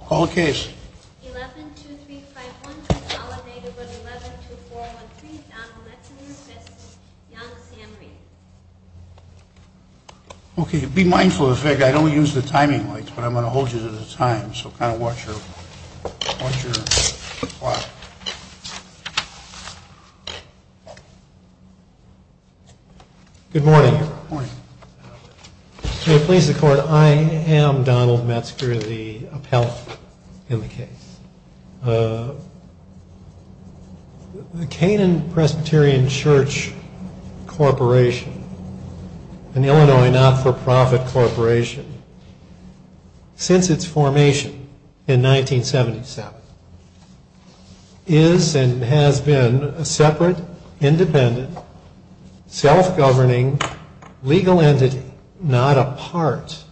Call the case 11-2-3-5-1-2-0-8-0-11-2-4-1-3 Donald Metzger v. Rhee Okay, be mindful of the fact that I don't use the timing lights, but I'm going to hold you to the time, so kind of watch your clock. Good morning. Good morning. So, please record, I am Donald Metzger, the appellate in the case. The Canaan Presbyterian Church Corporation, an Illinois not-for-profit corporation, since its formation in 1977, is and has been a separate, independent, self-governing, legal entity, not a part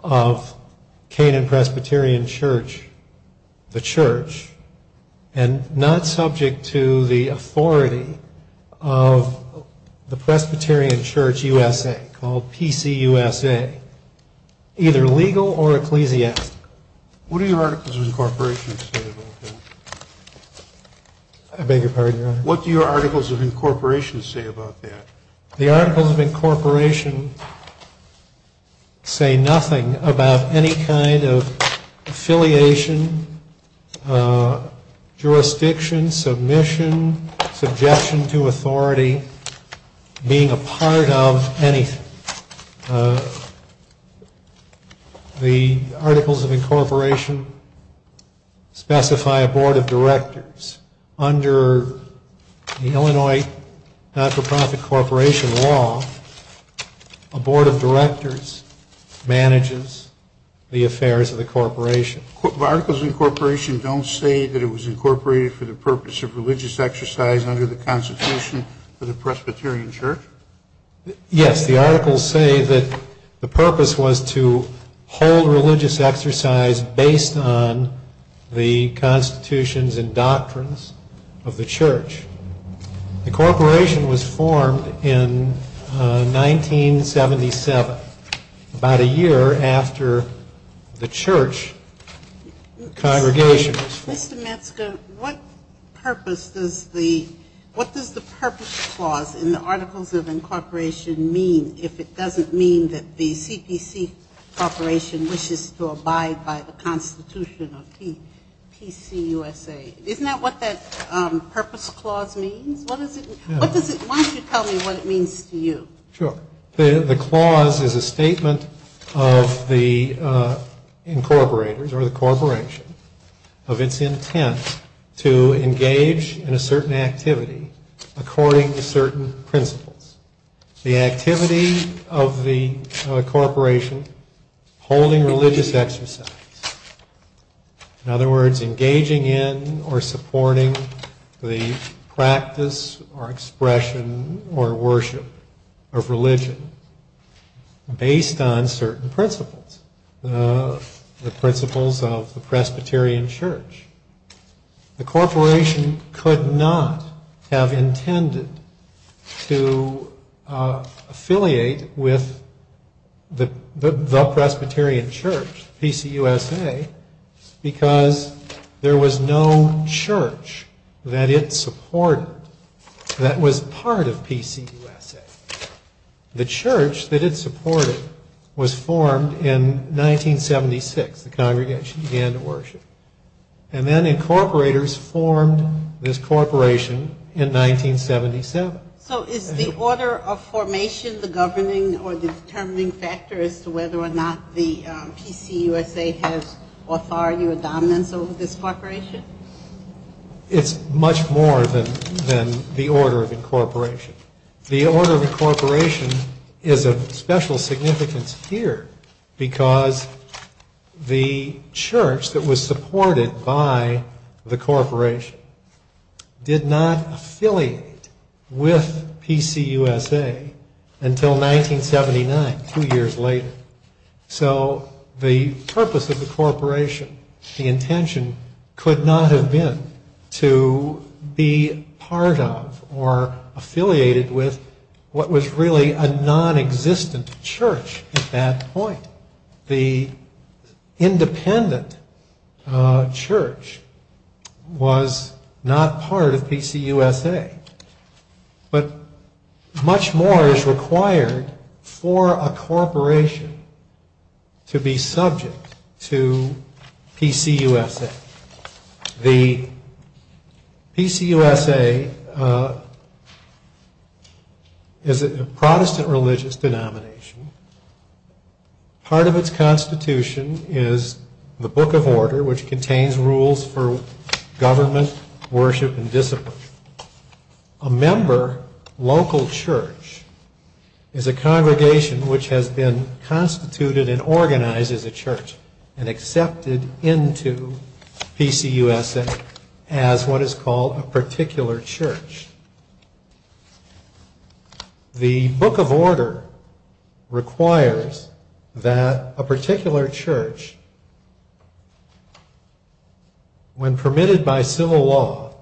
of Canaan Presbyterian Church, the church, and not subject to the authority of the Presbyterian Church USA, called PCUSA, either legal or ecclesiastical. What do your Articles of Incorporation say about that? I beg your pardon? What do your Articles of Incorporation say about that? The Articles of Incorporation say nothing about any kind of affiliation, jurisdiction, submission, suggestion to authority, being a part of anything. The Articles of Incorporation specify a board of directors. Under the Illinois not-for-profit corporation law, a board of directors manages the affairs of the corporation. The Articles of Incorporation don't say that it was incorporated for the purpose of religious exercise under the Constitution of the Presbyterian Church? Yes, the Articles say that the purpose was to hold religious exercise based on the constitutions and doctrines of the church. Incorporation was formed in 1977, about a year after the church congregation was formed. Mr. Metzger, what does the purpose clause in the Articles of Incorporation mean if it doesn't mean that the CDC corporation wishes to abide by the Constitution of PCUSA? Isn't that what that purpose clause means? Why don't you tell me what it means to you? Sure. The clause is a statement of the incorporators or the corporation of its intent to engage in a certain activity according to certain principles. The activity of the corporation holding religious exercise. In other words, engaging in or supporting the practice or expression or worship of religion based on certain principles, the principles of the Presbyterian Church. The corporation could not have intended to affiliate with the Presbyterian Church, PCUSA, because there was no church that it supported that was part of PCUSA. The church that it supported was formed in 1976. The congregation began to worship. And then incorporators formed this corporation in 1977. So is the order of formation the governing or determining factor as to whether or not the PCUSA has authority or dominance over this corporation? It's much more than the order of incorporation. The order of incorporation is of special significance here because the church that was supported by the corporation did not affiliate with PCUSA until 1979, two years later. So the purpose of the corporation, the intention, could not have been to be part of or affiliated with what was really a non-existent church at that point. The independent church was not part of PCUSA. But much more is required for a corporation to be subject to PCUSA. The PCUSA is a Protestant religious denomination. Part of its constitution is the Book of Order, which contains rules for government, worship, and discipline. A member local church is a congregation which has been constituted and organized as a church and accepted into PCUSA as what is called a particular church. The Book of Order requires that a particular church, when permitted by civil law,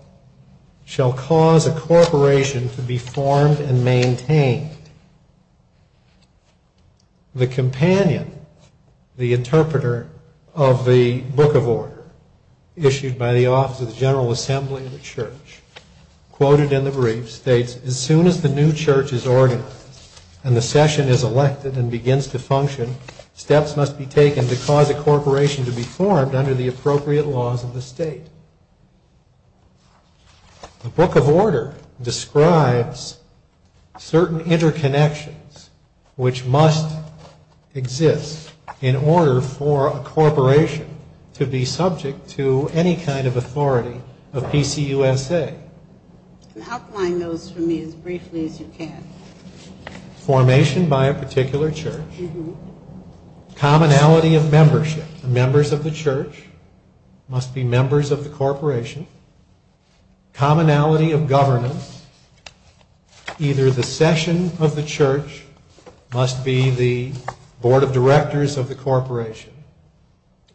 shall cause a corporation to be formed and maintained. The Companion, the interpreter of the Book of Order issued by the Office of General Assembly of the Church, quoted in the brief states, As soon as the new church is ordered and the session is elected and begins to function, steps must be taken to cause a corporation to be formed under the appropriate laws of the state. The Book of Order describes certain interconnections which must exist in order for a corporation to be subject to any kind of authority of PCUSA. Formation by a particular church. Commonality of membership. Members of the church must be members of the corporation. Commonality of governance. Either the session of the church must be the board of directors of the corporation,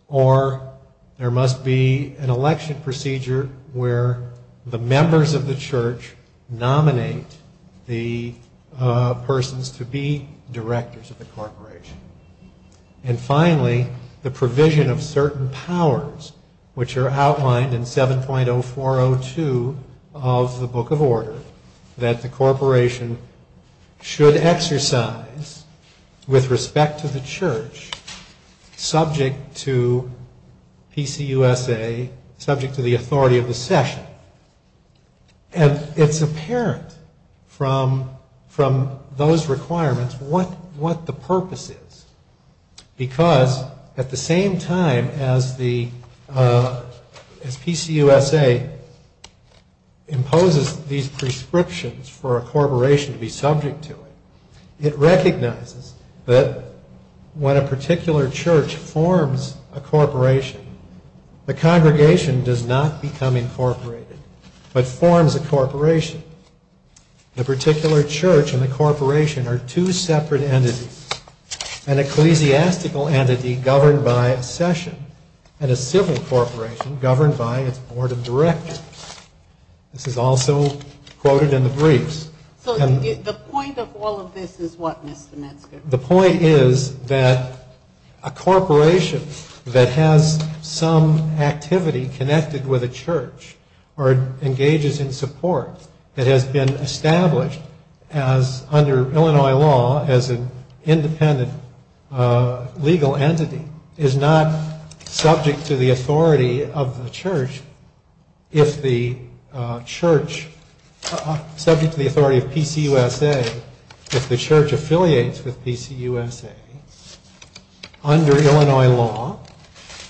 or there must be an election procedure where the members of the church nominate the persons to be directors of the corporation. And finally, the provision of certain powers, which are outlined in 7.0402 of the Book of Order, that the corporation should exercise with respect to the church, subject to PCUSA, subject to the authority of the session. And it's apparent from those requirements what the purpose is, because at the same time as PCUSA imposes these prescriptions for a corporation to be subject to it, it recognizes that when a particular church forms a corporation, the congregation does not become incorporated, but forms a corporation. The particular church and the corporation are two separate entities. An ecclesiastical entity governed by a session, and a civil corporation governed by its board of directors. This is also quoted in the briefs. So the point of all of this is what, Mr. Metzger? The point is that a corporation that has some activity connected with a church, or engages in support that has been established under Illinois law as an independent legal entity, is not subject to the authority of PCUSA if the church affiliates with PCUSA under Illinois law,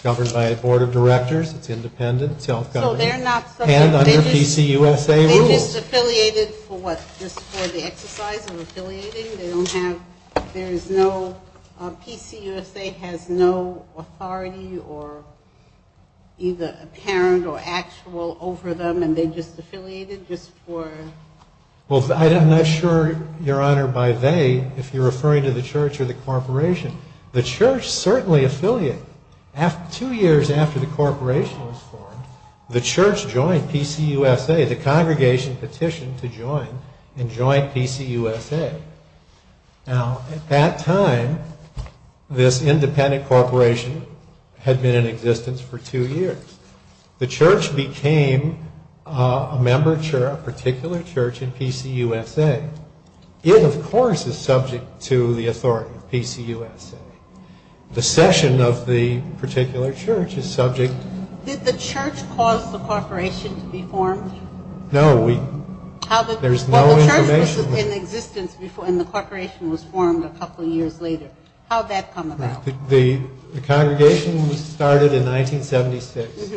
governed by a board of directors, independent, self-governing, and under PCUSA rules. And it's affiliated for what, just for the exercise of affiliating? They don't have, there's no, PCUSA has no authority, or either apparent or actual over them, and they're just affiliated just for... Well, I'm not sure, Your Honor, by they, if you're referring to the church or the corporation. The church certainly affiliated. Two years after the corporation was formed, the church joined PCUSA, the congregation petitioned to join, and joined PCUSA. Now, at that time, this independent corporation had been in existence for two years. The church became a member, a particular church in PCUSA. It, of course, is subject to the authority of PCUSA. The session of the particular church is subject... Did the church cause the corporation to be formed? No, we, there's no information... Well, the church was in existence before, and the corporation was formed a couple years later. How'd that come about? The congregation started in 1976.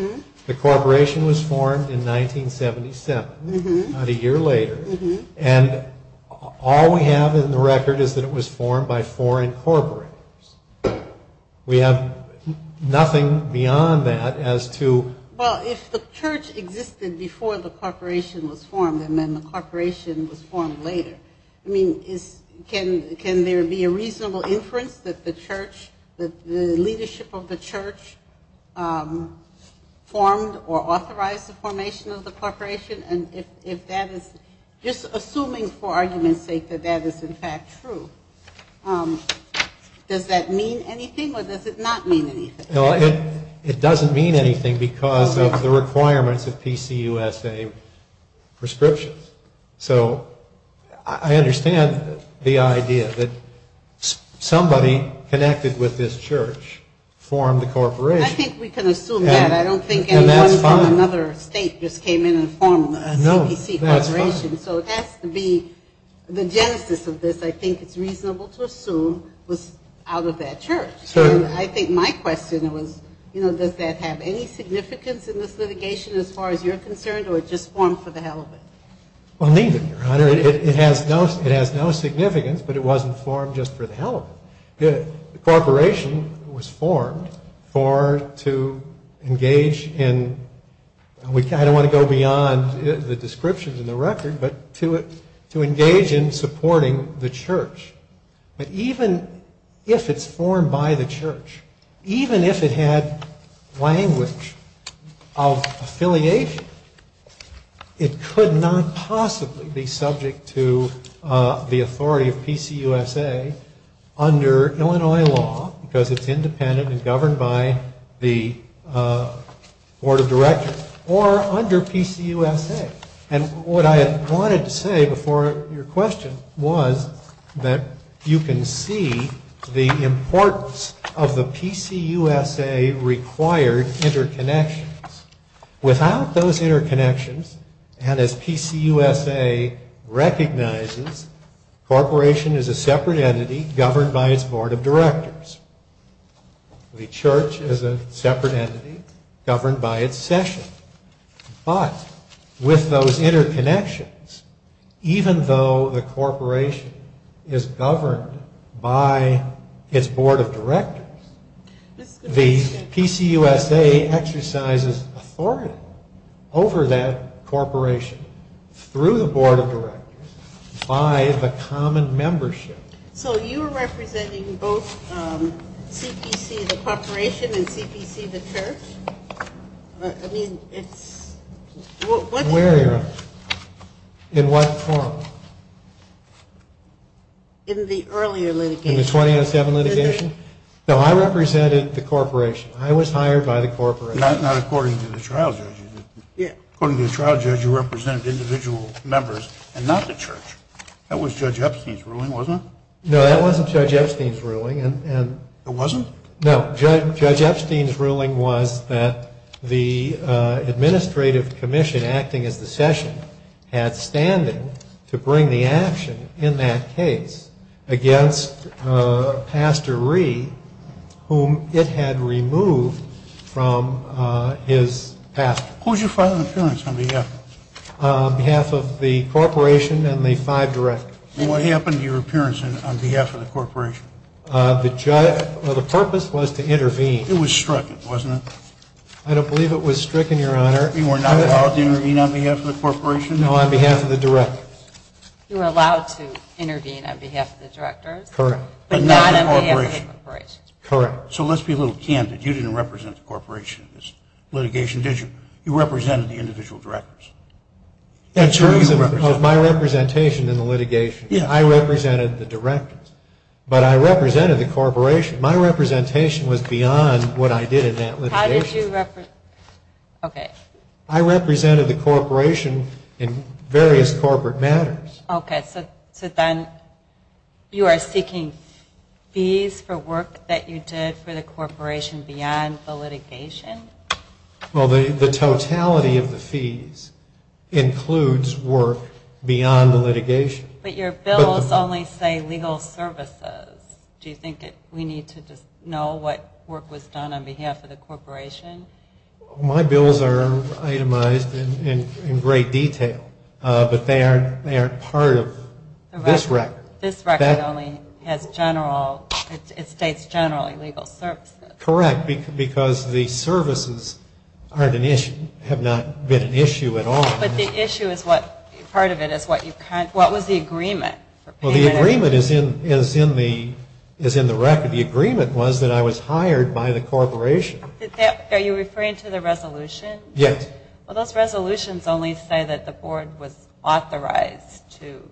The corporation was formed in 1977, about a year later. And all we have in the record is that it was formed by four incorporators. We have nothing beyond that as to... Well, if the church existed before the corporation was formed, and then the corporation was formed later, I mean, can there be a reasonable inference that the church, that the leadership of the church formed or authorized the formation of the corporation? And if that is, just assuming for argument's sake that that is, in fact, true, does that mean anything, or does it not mean anything? No, it doesn't mean anything because of the requirements of PCUSA prescriptions. So, I understand the idea that somebody connected with this church formed the corporation. I think we can assume that. I don't think anyone from another state just came in and formed a PC corporation. So it has to be, the genesis of this, I think it's reasonable to assume, was out of that church. And I think my question was, you know, does that have any significance in this litigation as far as you're concerned, or was it just formed for the hell of it? Well, neither, Your Honor. It has no significance, but it wasn't formed just for the hell of it. The corporation was formed for, to engage in... I don't want to go beyond the descriptions in the record, but to engage in supporting the church. But even if it's formed by the church, even if it had language of affiliation, it could not possibly be subject to the authority of PCUSA under Illinois law, because it's independent and governed by the Board of Directors, or under PCUSA. And what I wanted to say before your question was that you can see the importance of the PCUSA required interconnections. Without those interconnections, and as PCUSA recognizes, corporation is a separate entity governed by its Board of Directors. The church is a separate entity governed by its session. But with those interconnections, even though the corporation is governed by its Board of Directors, the PCUSA exercises authority over that corporation through the Board of Directors by a common membership. So you're representing both CPC, the corporation, and CPC, the church? I mean, it's... Where are you? In what form? In the earlier litigation. In the 2007 litigation? So I represented the corporation. I was hired by the corporation. That's not according to the trial judge. Yes. According to the trial judge, you represent individual members, and not the church. That was Judge Epstein's ruling, wasn't it? No, that wasn't Judge Epstein's ruling. It wasn't? No. Judge Epstein's ruling was that the administrative commission acting as the session had standing to bring the action in that case against Pastor Reed, whom it had removed from his past. Who did you file an appearance on behalf of? On behalf of the corporation and the five directors. And what happened to your appearance on behalf of the corporation? The purpose was to intervene. It was stricken, wasn't it? I don't believe it was stricken, Your Honor. You were not allowed to intervene on behalf of the corporation? No, on behalf of the directors. You were allowed to intervene on behalf of the directors? Correct. But not on behalf of the corporation? Correct. So let's be a little candid. You didn't represent the corporation in this litigation, did you? You represented the individual directors. That's right. It was my representation in the litigation. I represented the directors. But I represented the corporation. My representation was beyond what I did in that litigation. How did you represent? Okay. I represented the corporation in various corporate matters. Okay. So then you are seeking fees for work that you did for the corporation beyond the litigation? Well, the totality of the fees includes work beyond the litigation. But your bills only say legal services. Do you think we need to know what work was done on behalf of the corporation? My bills are itemized in great detail, but they aren't part of this record. This record only has general, it states general legal services. Correct, because the services have not been an issue at all. But the issue is what, part of it is what you, what was the agreement? Well, the agreement is in the record. The agreement was that I was hired by the corporation. Are you referring to the resolution? Yes. Well, those resolutions only say that the board was authorized to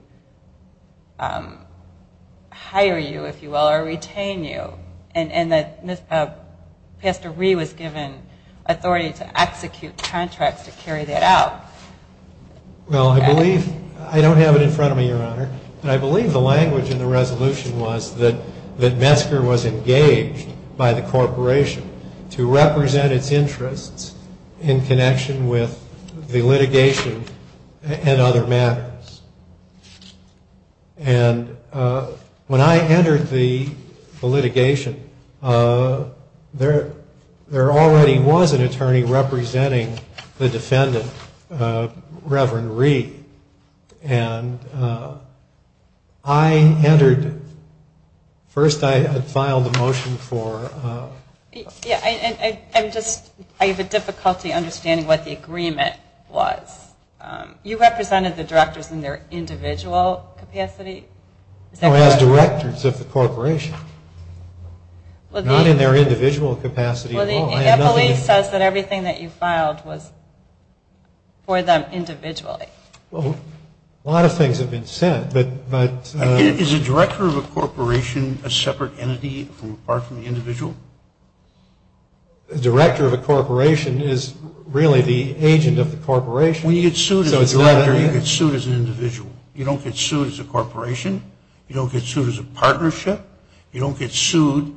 hire you, if you will, or retain you. And that Mr. Rhee was given authority to execute contracts to carry that out. Well, I believe, I don't have it in front of me, Your Honor, but I believe the language in the resolution was that Metzger was engaged by the corporation to represent its interests in connection with the litigation and other matters. And when I entered the litigation, there already was an attorney representing the defendant, Reverend Rhee. And I entered, first I had filed a motion for... Yeah, I'm just, I have a difficulty understanding what the agreement was. You represented the directors in their individual capacity? Or as directors of the corporation. Not in their individual capacity at all. Well, it definitely says that everything that you filed was for them individually. Well, a lot of things have been said, but... Is the director of a corporation a separate entity apart from the individual? The director of a corporation is really the agent of the corporation. When you get sued as a director, you get sued as an individual. You don't get sued as a corporation. You don't get sued as a partnership. You don't get sued.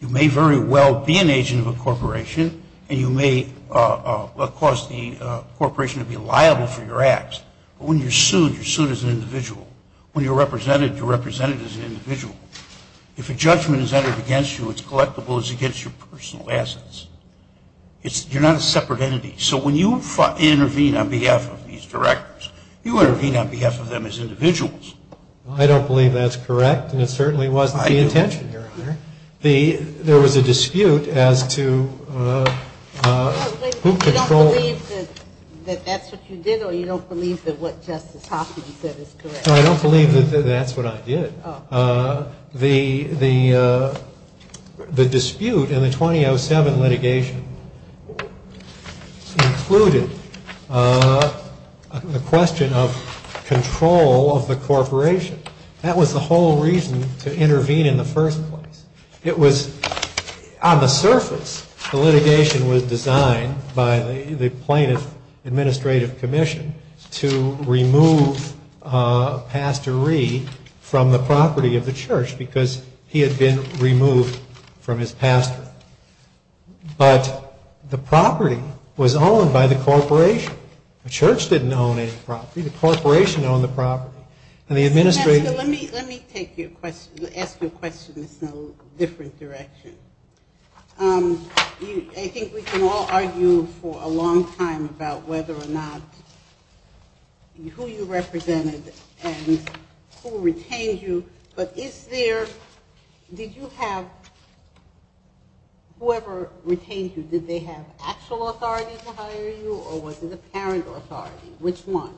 You may very well be an agent of a corporation, and you may cause the corporation to be liable for your acts. But when you're sued, you're sued as an individual. When you're represented, you're represented as an individual. If a judgment is entered against you, it's collectible as against your personal assets. You're not a separate entity. So when you intervene on behalf of these directors, you intervene on behalf of them as individuals. I don't believe that's correct, and it certainly wasn't the intention, Your Honor. There was a dispute as to who controls... So you don't believe that that's what you did, or you don't believe that what Justice Posse said is correct? No, I don't believe that that's what I did. The dispute in the 2007 litigation included a question of control of the corporation. That was the whole reason to intervene in the first place. It was on the surface. The litigation was designed by the plaintiff's administrative commission to remove Pastor Ree from the property of the church because he had been removed from his pastor. But the property was owned by the corporation. The church didn't own any property. The corporation owned the property. Let me ask you a question that's in a different direction. I think we can all argue for a long time about whether or not who you represented and who retained you, but did you have... whoever retained you, did they have actual authority to hire you or was it apparent authority? Which one?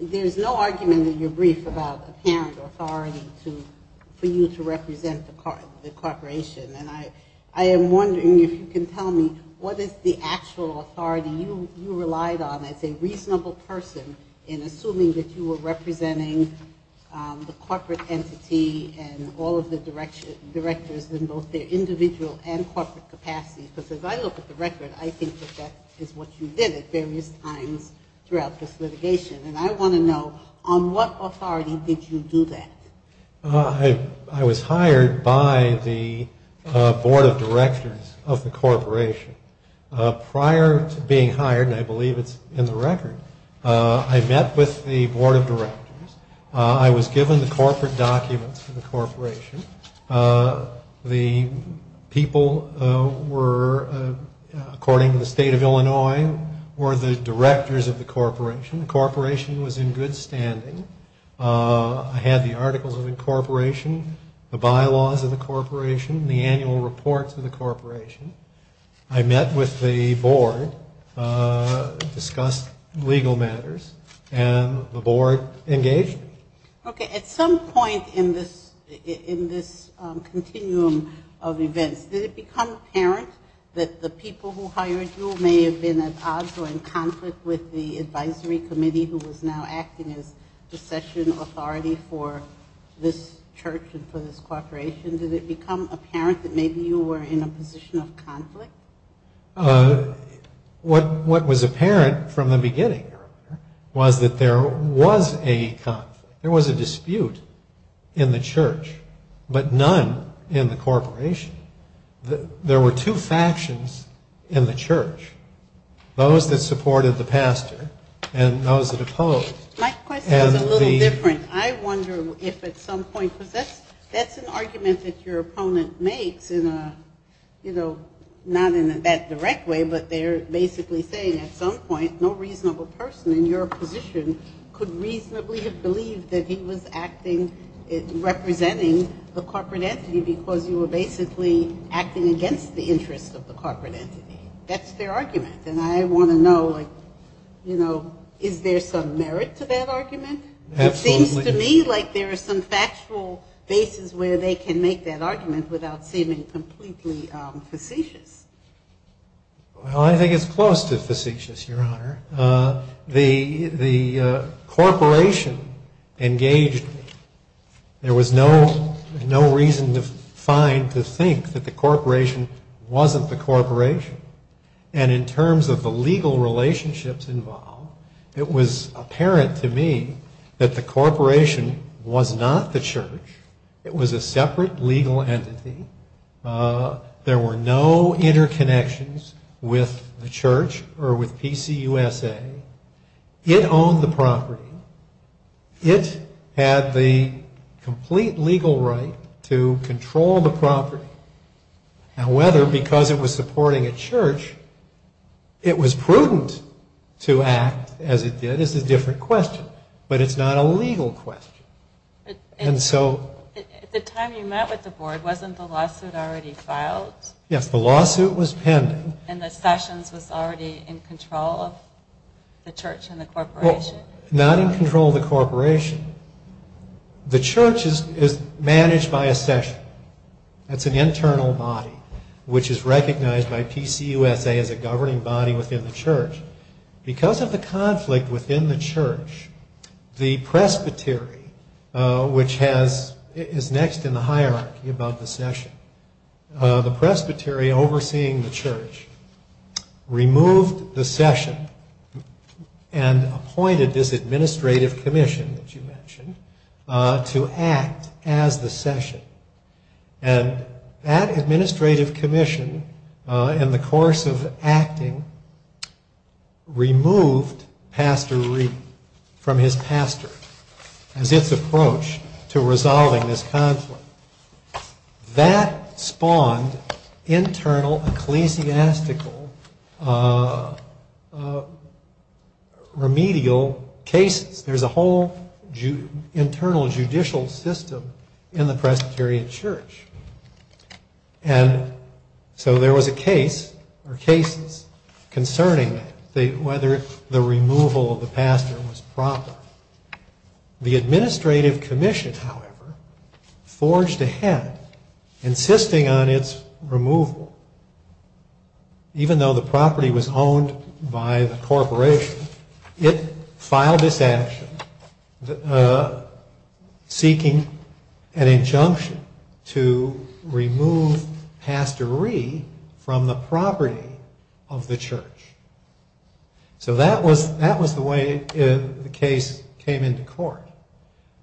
There's no argument in your brief about apparent authority for you to represent the corporation, and I am wondering if you can tell me what is the actual authority you relied on as a reasonable person in assuming that you were representing the corporate entity and all of the directors in both their individual and corporate capacities. Because as I look at the record, I think that that is what you did at various times throughout this litigation, and I want to know on what authority did you do that? I was hired by the board of directors of the corporation. Prior to being hired, and I believe it's in the record, I met with the board of directors. I was given the corporate documents from the corporation. The people were, according to the state of Illinois, were the directors of the corporation. The corporation was in good standing. I had the articles of incorporation, the bylaws of the corporation, the annual reports of the corporation. I met with the board, discussed legal matters, and the board engaged me. Okay. At some point in this continuum of events, did it become apparent that the people who hired you may have been at odds or in conflict with the advisory committee who was now acting as succession authority for this church and for this corporation? Did it become apparent that maybe you were in a position of conflict? What was apparent from the beginning was that there was a conflict. There was a dispute in the church, but none in the corporation. There were two factions in the church. Those that supported the pastor and those that opposed. My question is a little different. I wonder if at some point, because that's an argument that your opponent makes in a, you know, not in a bad, direct way, but they're basically saying at some point no reasonable person in your position could reasonably have believed that he was acting, representing the corporate entity because you were basically acting against the interests of the corporate entity. That's their argument. And I want to know, you know, is there some merit to that argument? It seems to me like there are some factual basis where they can make that argument without seeming completely facetious. Well, I think it's close to facetious, Your Honor. The corporation engaged me. There was no reason to find to think that the corporation wasn't the corporation. And in terms of the legal relationships involved, it was apparent to me that the corporation was not the church. It was a separate legal entity. There were no interconnections with the church or with PCUSA. It owned the property. It had the complete legal right to control the property. However, because it was supporting a church, it was prudent to act as it did. It's a different question, but it's not a legal question. And so... At the time you met with the board, wasn't the lawsuit already filed? Yes, the lawsuit was pending. And the Sessions was already in control of the church and the corporation? Not in control of the corporation. The church is managed by a Session. It's an internal body which is recognized by PCUSA as a governing body within the church. Because of the conflict within the church, the Presbytery, which is next in the hierarchy above the Session, and appointed this administrative commission, as you mentioned, to act as the Session. And that administrative commission, in the course of acting, removed Pastor Reed from his pastor, and this approach to resolving this conflict. That spawned internal ecclesiastical remedial cases. There's a whole internal judicial system in the Presbyterian Church. And so there was a case, or cases, concerning whether the removal of the pastor was proper. The administrative commission, however, forged ahead, insisting on its removal. Even though the property was owned by the corporation, it filed its action, seeking an injunction to remove Pastor Reed from the property of the church. So that was the way the case came into court.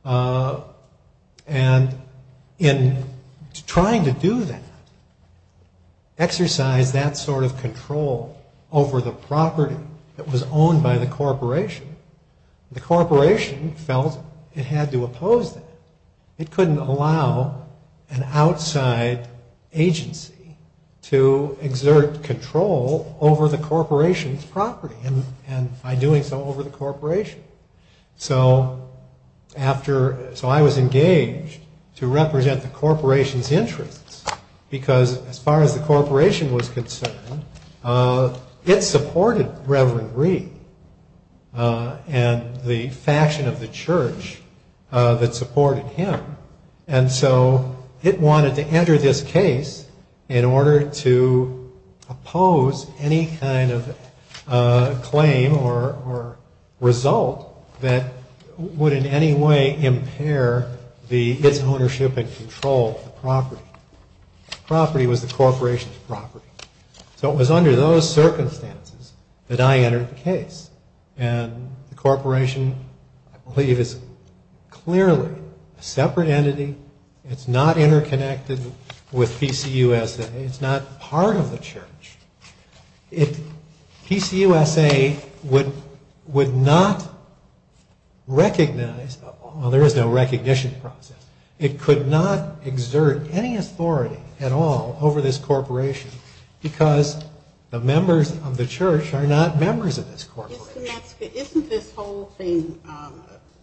And in trying to do that, exercise that sort of control over the property that was owned by the corporation, the corporation felt it had to oppose it. It couldn't allow an outside agency to exert control over the corporation's property, and by doing so, over the corporation. So I was engaged to represent the corporation's interests, because as far as the corporation was concerned, it supported Reverend Reed and the fashion of the church that supported him. And so it wanted to enter this case in order to oppose any kind of claim or result that would in any way impair its ownership and control of the property. The property was the corporation's property. So it was under those circumstances that I entered the case. And the corporation, I believe, is clearly a separate entity. It's not interconnected with PCUSA. It's not part of the church. PCUSA would not recognize... Well, there is a recognition process. It could not exert any authority at all over this corporation because the members of the church are not members of this corporation. Isn't this whole thing...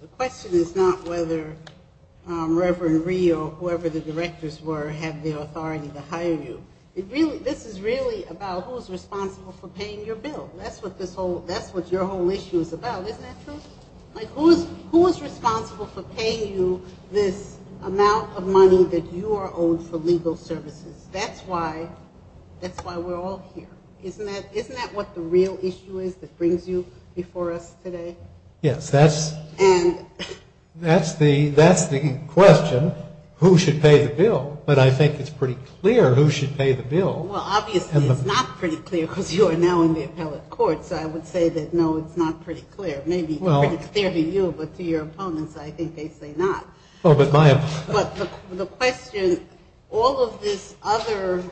The question is not whether Reverend Reed or whoever the directors were had the authority to hire you. This is really about who is responsible for paying your bill. That's what your whole issue is about, isn't that so? Like, who is responsible for paying you this amount of money that you are owed for legal services? That's why we're all here. Isn't that what the real issue is that brings you before us today? Yes, that's the question. Who should pay the bill? But I think it's pretty clear who should pay the bill. Well, obviously, it's not pretty clear because you are now in the appellate court. So I would say that, no, it's not pretty clear. Maybe it's clear to you, but to your opponents, I think they say not. The question, all of the other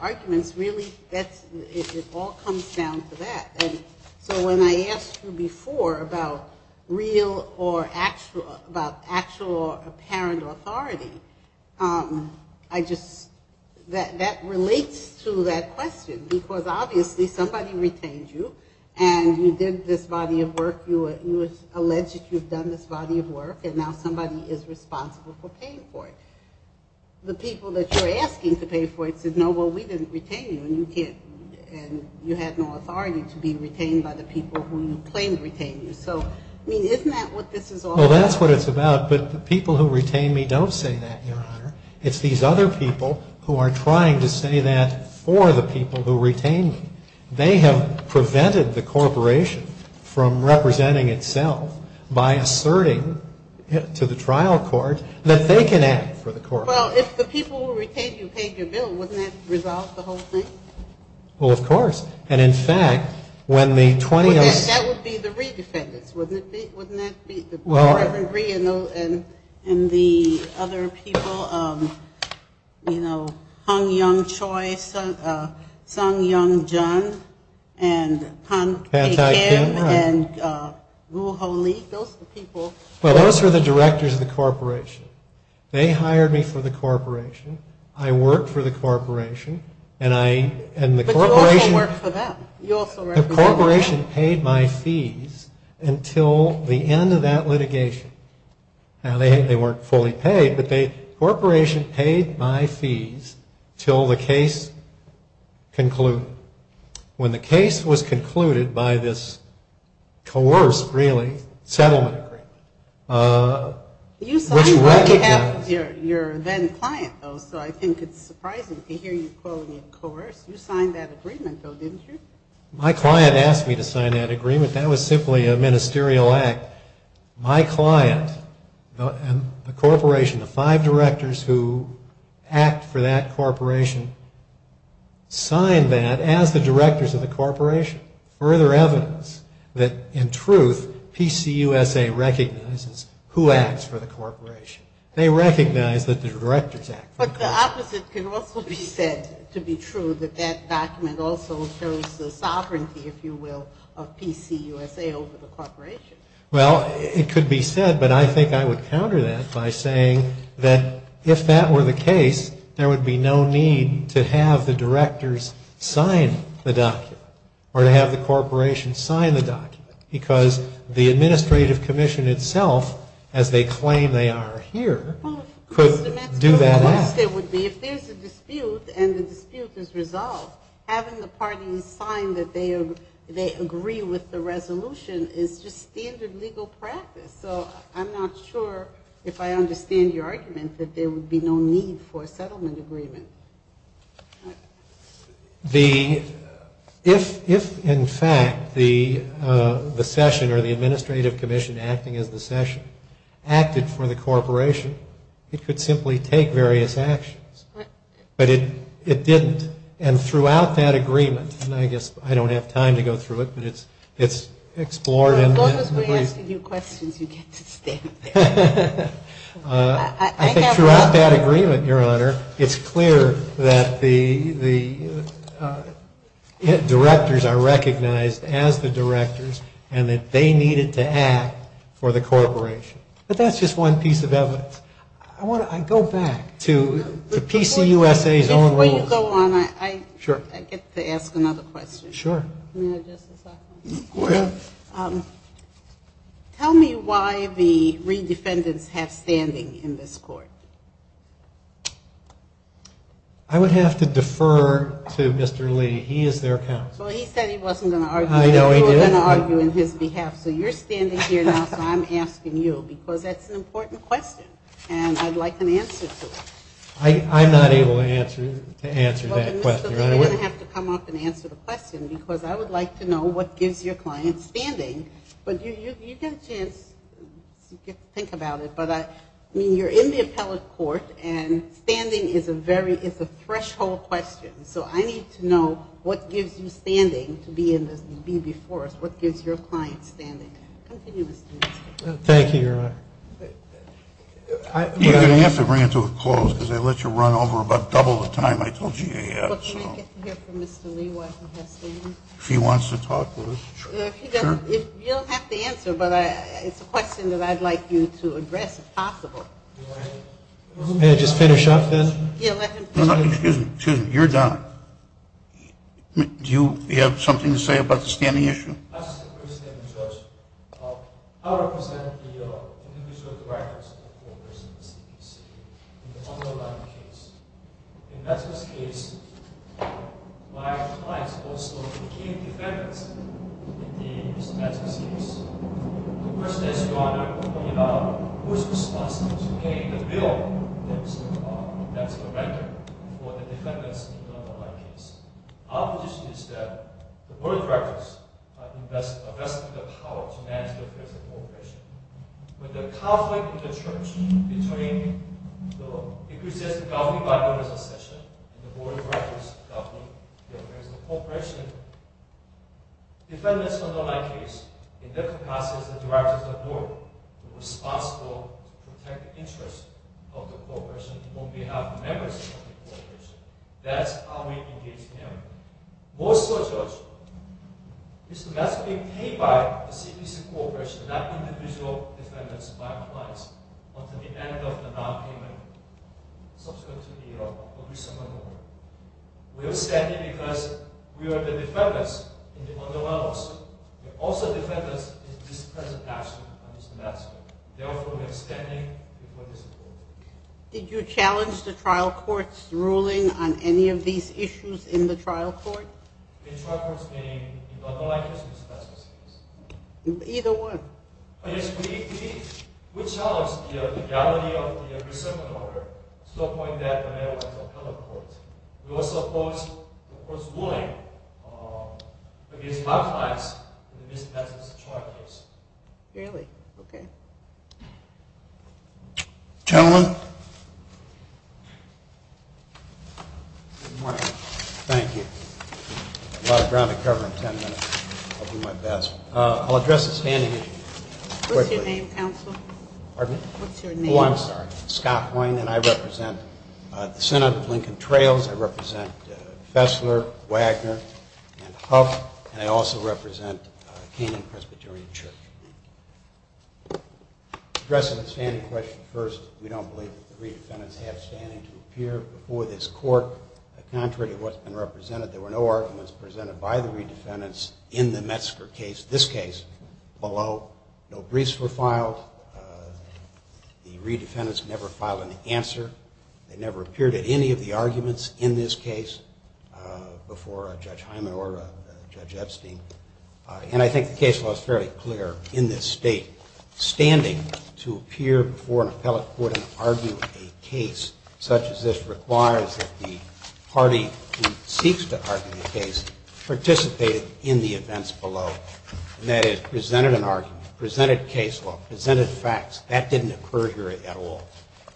arguments really, it all comes down to that. So when I asked you before about real or actual, about actual or apparent authority, that relates to that question because obviously somebody retained you and you did this body of work. You alleged that you've done this body of work and now somebody is responsible for paying for it. The people that you're asking to pay for it said, no, well, we didn't retain you and you have no authority to be retained by the people who claim to retain you. So, I mean, isn't that what this is all about? Well, that's what it's about, but the people who retain me don't say that, Your Honor. It's these other people who are trying to say that for the people who retained me. They have prevented the corporation from representing itself by asserting to the trial court that they can act for the corporation. Well, if the people who retained you paid the bill, wouldn't that resolve the whole thing? Well, of course. And in fact, when the 28- That would be the re-defendants, wouldn't it be? Well, I agree. And the other people, you know, Hung Yung Choy, Sung Yung Jun, and Tom Aiken, and Wu Ho Lee, those are the people- But those are the directors of the corporation. They hired me for the corporation. I worked for the corporation, and I- But you also worked for them. The corporation paid my fees until the end of that litigation. Now, they weren't fully paid, but the corporation paid my fees until the case concluded. When the case was concluded by this coerced, really, settlement, we recognized- You're then a client, though, so I think it's surprising to hear you call it coerced. You signed that agreement, though, didn't you? My client asked me to sign that agreement. That was simply a ministerial act. My client, a corporation of five directors who act for that corporation, signed that as the directors of the corporation. Further evidence that, in truth, PCUSA recognizes who acts for the corporation. They recognize that the directors act for the corporation. But the opposite can also be said to be true, that that document also shows the sovereignty, if you will, of PCUSA over the corporation. Well, it could be said, but I think I would counter that by saying that, if that were the case, there would be no need to have the directors sign the document, or to have the corporation sign the document, because the administrative commission itself, as they explain they are here, could do that. If there's a dispute, and the dispute is resolved, having the party sign that they agree with the resolution is just standard legal practice. So I'm not sure, if I understand your argument, that there would be no need for a settlement agreement. If, in fact, the session, or the administrative commission acting as the session, acted for the corporation, it could simply take various actions. But it didn't. And throughout that agreement, and I just, I don't have time to go through it, but it's explored. I love it when I ask you questions, you get to stand there. I think throughout that agreement, Your Honor, it's clear that the directors are recognized as the directors, and that they needed to act for the corporation. But that's just one piece of evidence. I go back to PCUSA's own rules. Before we go on, I get to ask another question. Sure. Go ahead. Tell me why the re-defendants have standing in this court. I would have to defer to Mr. Lee. He is their counsel. Well, he said he wasn't going to argue. I know he did. He wasn't going to argue on his behalf. So you're standing here now, but I'm asking you, because that's an important question. And I'd like an answer to it. I'm not able to answer that question. You're going to have to come up and answer the question, because I would like to know what gives your client standing. But you can think about it, but you're in the appellate court, and standing is a threshold question. So I need to know what gives you standing to be in this court, what gives your client standing. Continue. Thank you, Your Honor. You're going to have to bring it to a close, because I let you run over about double the time I told you you had. Well, can I get to hear from Mr. Lee once we have him? If he wants to talk to us, sure. You'll have to answer, but it's a question that I'd like you to address if possible. May I just get a shot, then? Excuse me. You're done. Do you have something to say about the standing issue? I'm a participant in the search of how representative you are in the district records of court proceedings in the public life case. In that case, my client was the key defendant in this case. The person I just brought up pointed out who is responsible for paying the bill that is the record for the defendants in the public life case. Our position is that the court records are the best of their power to manage the record of the corporation. But the conflict in the search is remaining, so if we set the government record as an exception, the court records go to the corporation. Defendants of the life case in the public life case are the records of the court who are responsible to protect the interests of the corporation on behalf of the members of the corporation. That's how we engage them. Most of the search is not to be paid by the CTC Corporation, not to be the sole defendants by our clients, but to be the end of the document. We are standing because we are the defendants in the other laws. We are also defendants in this present action of Mr. Nassif. Therefore, we are standing for this court. Did you challenge the trial court's ruling on any of these issues in the trial court? In terms of the public life case in this case? Either one. Yes, we did. We challenged the reality of the reservation order, to the point that I have another court. We also forced the court's ruling against our clients, the defendant's charges. Really? Okay. Gentlemen. Thank you. I'll address the standings. What's your name, counsel? I'm sorry, Scott Boyan, and I represent the Center for Lincoln Trails. I represent Fessler, Wagner, and Huff. And I also represent Canaan Presbyterian Church. Addressing the standing question first, we don't believe that the re-defendants have standing to appear before this court. Contrary to what's been represented, there were no arguments presented by the re-defendants in the Metzger case. This case, although no briefs were filed, the re-defendants never filed an answer. They never appeared at any of the arguments in this case before Judge Hyman or Judge Epstein. And I think the case law is fairly clear in this state. Standing to appear before an appellate court and argue a case such as this requires that the party who seeks to argue the case participate in the events below. And that is, presented an argument, presented case law, presented facts, that didn't occur here at all.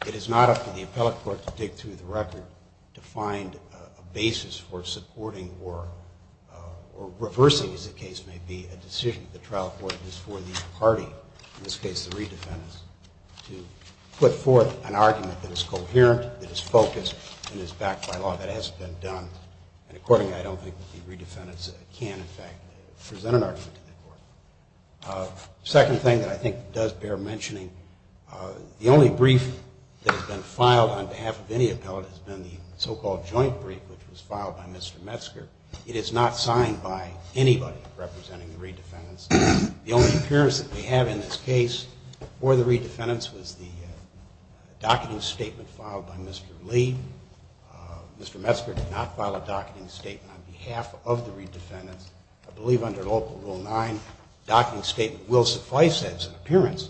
It is not up to the appellate court to dig through the record to find a basis for supporting or reversing, as the case may be, a decision that the trial court is for the party, in this case the re-defendants, to put forth an argument that is coherent, that is focused, and is backed by law that hasn't been done. And accordingly, I don't think the re-defendants can, in fact, present an argument to the court. The second thing that I think does bear mentioning, the only brief that has been filed on behalf of any appellate has been the so-called joint brief, which was filed by Mr. Metzger. It is not signed by anybody representing the re-defendants. The only appearance that we have in this case for the re-defendants was the document statement filed by Mr. Lee. Mr. Metzger did not file a document statement on behalf of the re-defendants. I believe under Article 9, the document statement will suffice as an appearance.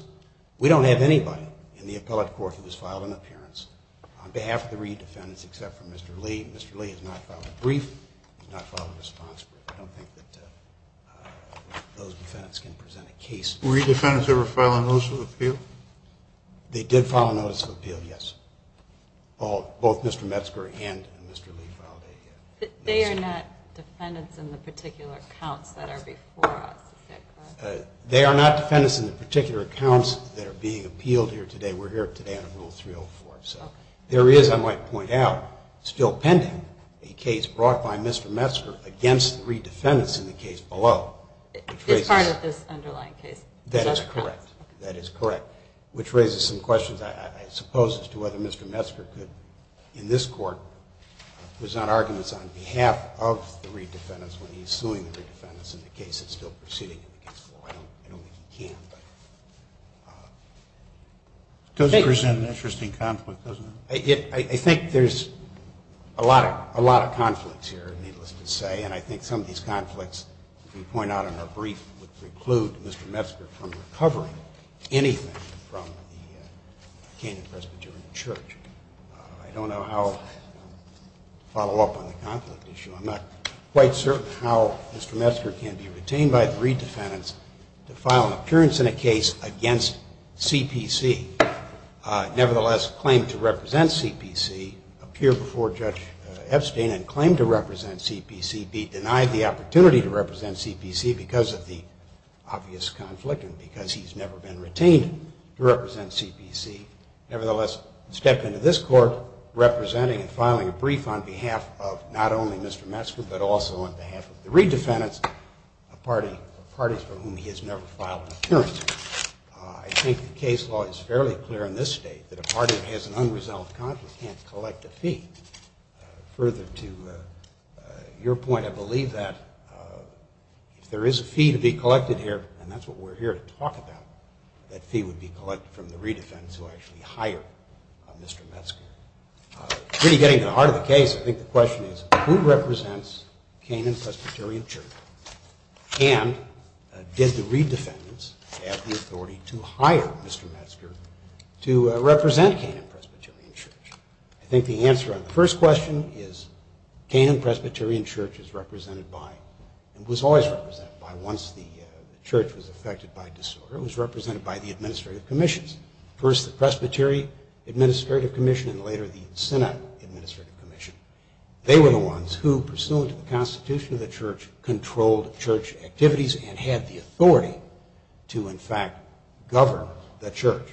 We don't have anybody in the appellate court who has filed an appearance on behalf of the re-defendants except for Mr. Lee. Mr. Lee has not filed a brief, has not filed a response, but I don't think that those defendants can present a case. Were re-defendants ever filed a notice of appeal? They did file a notice of appeal, yes. Both Mr. Metzger and Mr. Lee filed a case. They are not defendants in the particular accounts that are before us, I think. They are not defendants in the particular accounts that are being appealed here today. We're here today on Rule 304. There is, I might point out, still pending, a case brought by Mr. Metzger against the re-defendants in the case below. It's part of the underlying case. That is correct. Which raises some questions, I suppose, as to whether Mr. Metzger could, in this court, present arguments on behalf of the re-defendants when he's suing the defendants in the case that's still proceeding. I don't know if he can, but... It does present an interesting conflict, doesn't it? I think there's a lot of conflicts here, needless to say, and I think some of these conflicts, as we point out in our brief, would preclude Mr. Metzger from recovering anything from the Canadian Presbyterian Church. I don't know how I'll follow up on the conflict issue. I'm not quite certain how Mr. Metzger can be retained by the re-defendants to file an appearance in a case against CPC, nevertheless claim to represent CPC, appear before Judge Epstein and claim to represent CPC, be denied the opportunity to represent CPC because of the obvious conflict and because he's never been retained to represent CPC, nevertheless step into this court representing and filing a brief on behalf of not only Mr. Metzger, but also on behalf of the re-defendants, the parties for whom he has never filed an appearance. I think the case law is fairly clear in this state that a party that has an unresolved conflict can't collect a fee. Further to your point, I believe that if there is a fee to be collected here, and that's what we're here to talk about, that fee would be collected from the re-defendants who actually hire Mr. Metzger. Really getting to the heart of the case, I think the question is who represents Canaan Presbyterian Church and did the re-defendants have the authority to hire Mr. Metzger to represent Canaan Presbyterian Church? I think the answer on the first question is Canaan Presbyterian Church is represented by, it was always represented by once the church was affected by disorder, it was represented by the administrative commissions. First the Presbyterian Administrative Commission and later the Senate Administrative Commission. They were the ones who, pursuant to the Constitution of the church, controlled church activities and had the authority to in fact govern the church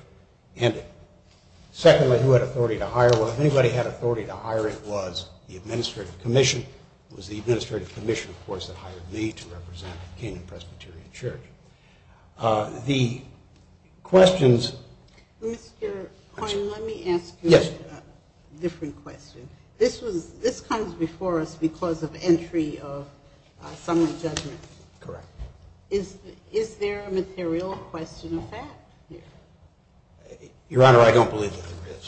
and it. Secondly, who had authority to hire? Well, if anybody had authority to hire it was the Administrative Commission, it was the Administrative Commission, of course, that hired me to represent Canaan Presbyterian Church. The questions... Mr. Coyne, let me ask you a different question. This comes before us because of entry of someone's evidence. Correct. Is there a material question of that here? Your Honor, I don't believe there is.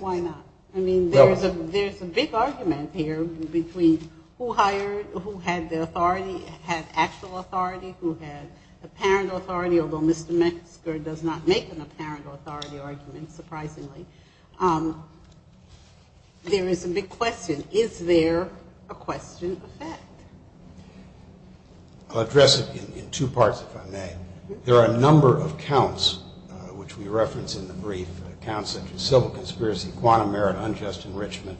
Why not? I mean, there's a big argument here between who hired, who had the authority, had actual authority, who had apparent authority, although Mr. Metzger does not make an apparent authority argument, surprisingly. There is a big question. Is there a question of that? I'll address it in two parts, if I may. ...conspiracy, quantum merit, unjust enrichment,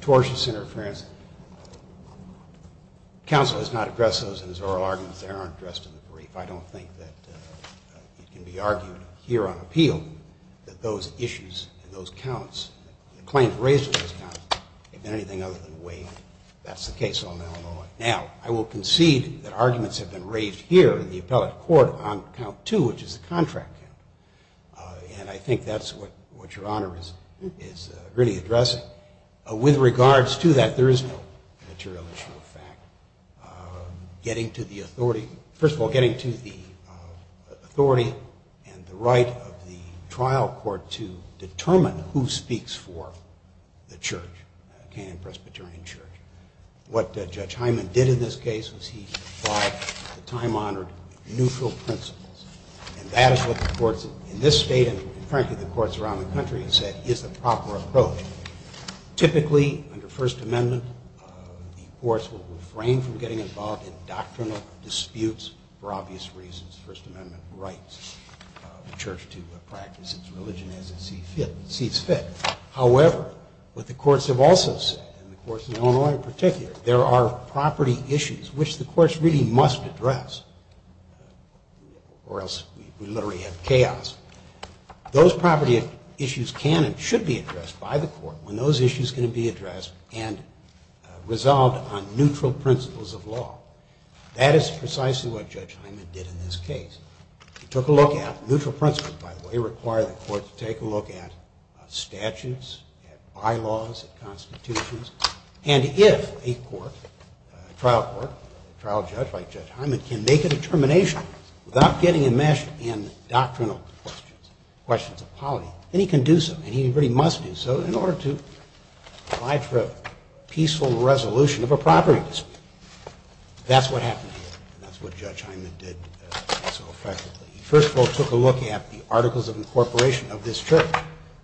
tortious interference. Counsel has not addressed those in his oral argument. They aren't addressed in the brief. I don't think that the argument here on appeal that those issues, those counts, the claims raised in those counts have been anything other than the way that's the case. Now, I will concede that arguments have been raised here in the appellate court on count two, which is a contract, and I think that's what Your Honor is really addressing. With regards to that, there is no material issue with that. Getting to the authority, first of all, getting to the authority and the right of the trial court to determine who speaks for the church, Canaan Presbyterian Church. What Judge Hyman did in this case was he applied the time-honored neutral principles, and that is what the courts in this state, and apparently the courts around the country, have said is the proper approach. Typically, under First Amendment, the courts will refrain from getting involved in doctrinal disputes for obvious reasons. First Amendment rights the church to practice its religion as it sees fit. However, what the courts have also said, and the courts in Illinois in particular, there are property issues which the courts really must address or else we literally have chaos. Those property issues can and should be addressed by the court when those issues can be addressed and resolved on neutral principles of law. That is precisely what Judge Hyman did in this case. He required the court to take a look at statutes, bylaws, and constitutions, and if a court, a trial court, a trial judge like Judge Hyman, can make a determination without getting enmeshed in doctrinal questions, questions of polity, then he can do something. He really must do something in order to strive for a peaceful resolution of a property dispute. That's what happened. That's what Judge Hyman did. He first of all took a look at the Articles of Incorporation of this church,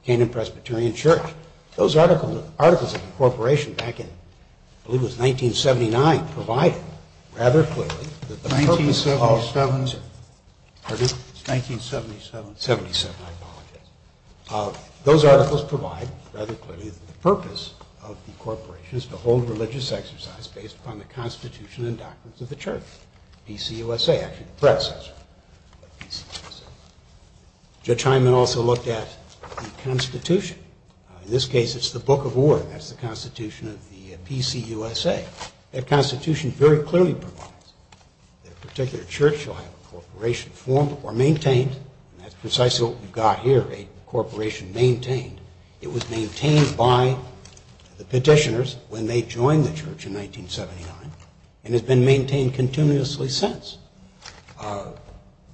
Canaan Presbyterian Church. Those Articles of Incorporation back in, I believe it was 1979, provided rather clearly that the purpose of the corporation is to hold religious exercise based upon the constitution and doctrines of the church, PCUSA. Judge Hyman also looked at the constitution. In this case it's the Book of Order. That's the constitution of the PCUSA. That constitution very clearly provides that a particular church or corporation formed or maintained, and that's precisely what we've got here, a corporation maintained. It was maintained by the petitioners when they joined the church in 1979, and has been maintained continuously since.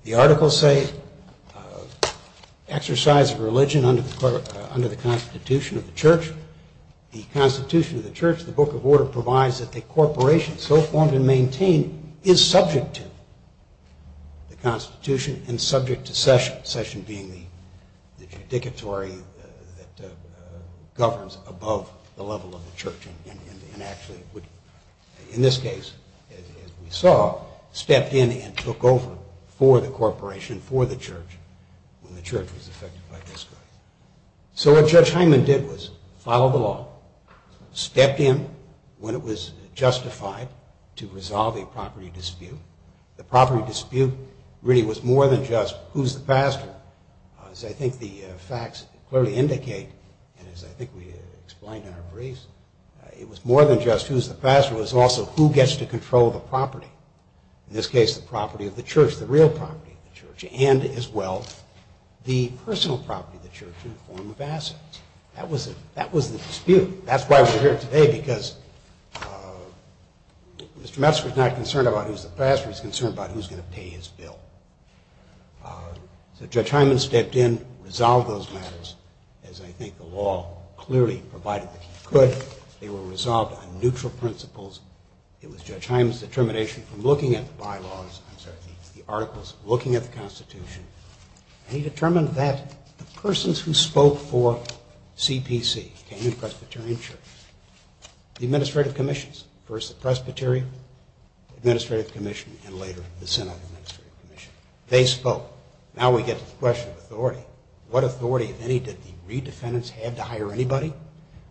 The Articles say exercise of religion under the constitution of the church. The constitution of the church, the Book of Order, provides that the corporation so formed and maintained is subject to the constitution and subject to session, session being the tributary that governs above the level of the church. In this case, as we saw, stepped in and took over for the corporation, for the church when the church was affected by this. So what Judge Hyman did was follow the law, stepped in when it was justified to resolve a property dispute. The property dispute really was more than just who's the pastor. I think the facts clearly indicate, and as I think we explained in our briefs, it was more than just who's the pastor. It was also who gets to control the property. In this case, the property of the church, the real property of the church, and as well the personal property of the church in the form of assets. That was the dispute. That's why we're here today because Mr. Metzger's not concerned about who's the pastor. He's concerned about who's going to pay his bill. So Judge Hyman stepped in, resolved those matters, as I think the law clearly provided that he could. They were resolved on neutral principles. It was Judge Hyman's determination from looking at the bylaws, I'm sorry, the articles, looking at the Constitution, and he determined that the persons who spoke for CPC and the Presbyterian church, the administrative commissions, first the Presbyterian Administrative Commission and later the Senate Administrative Commission, they spoke. Now we get to the question of authority. What authority, if any, did the redefendants have to hire anybody?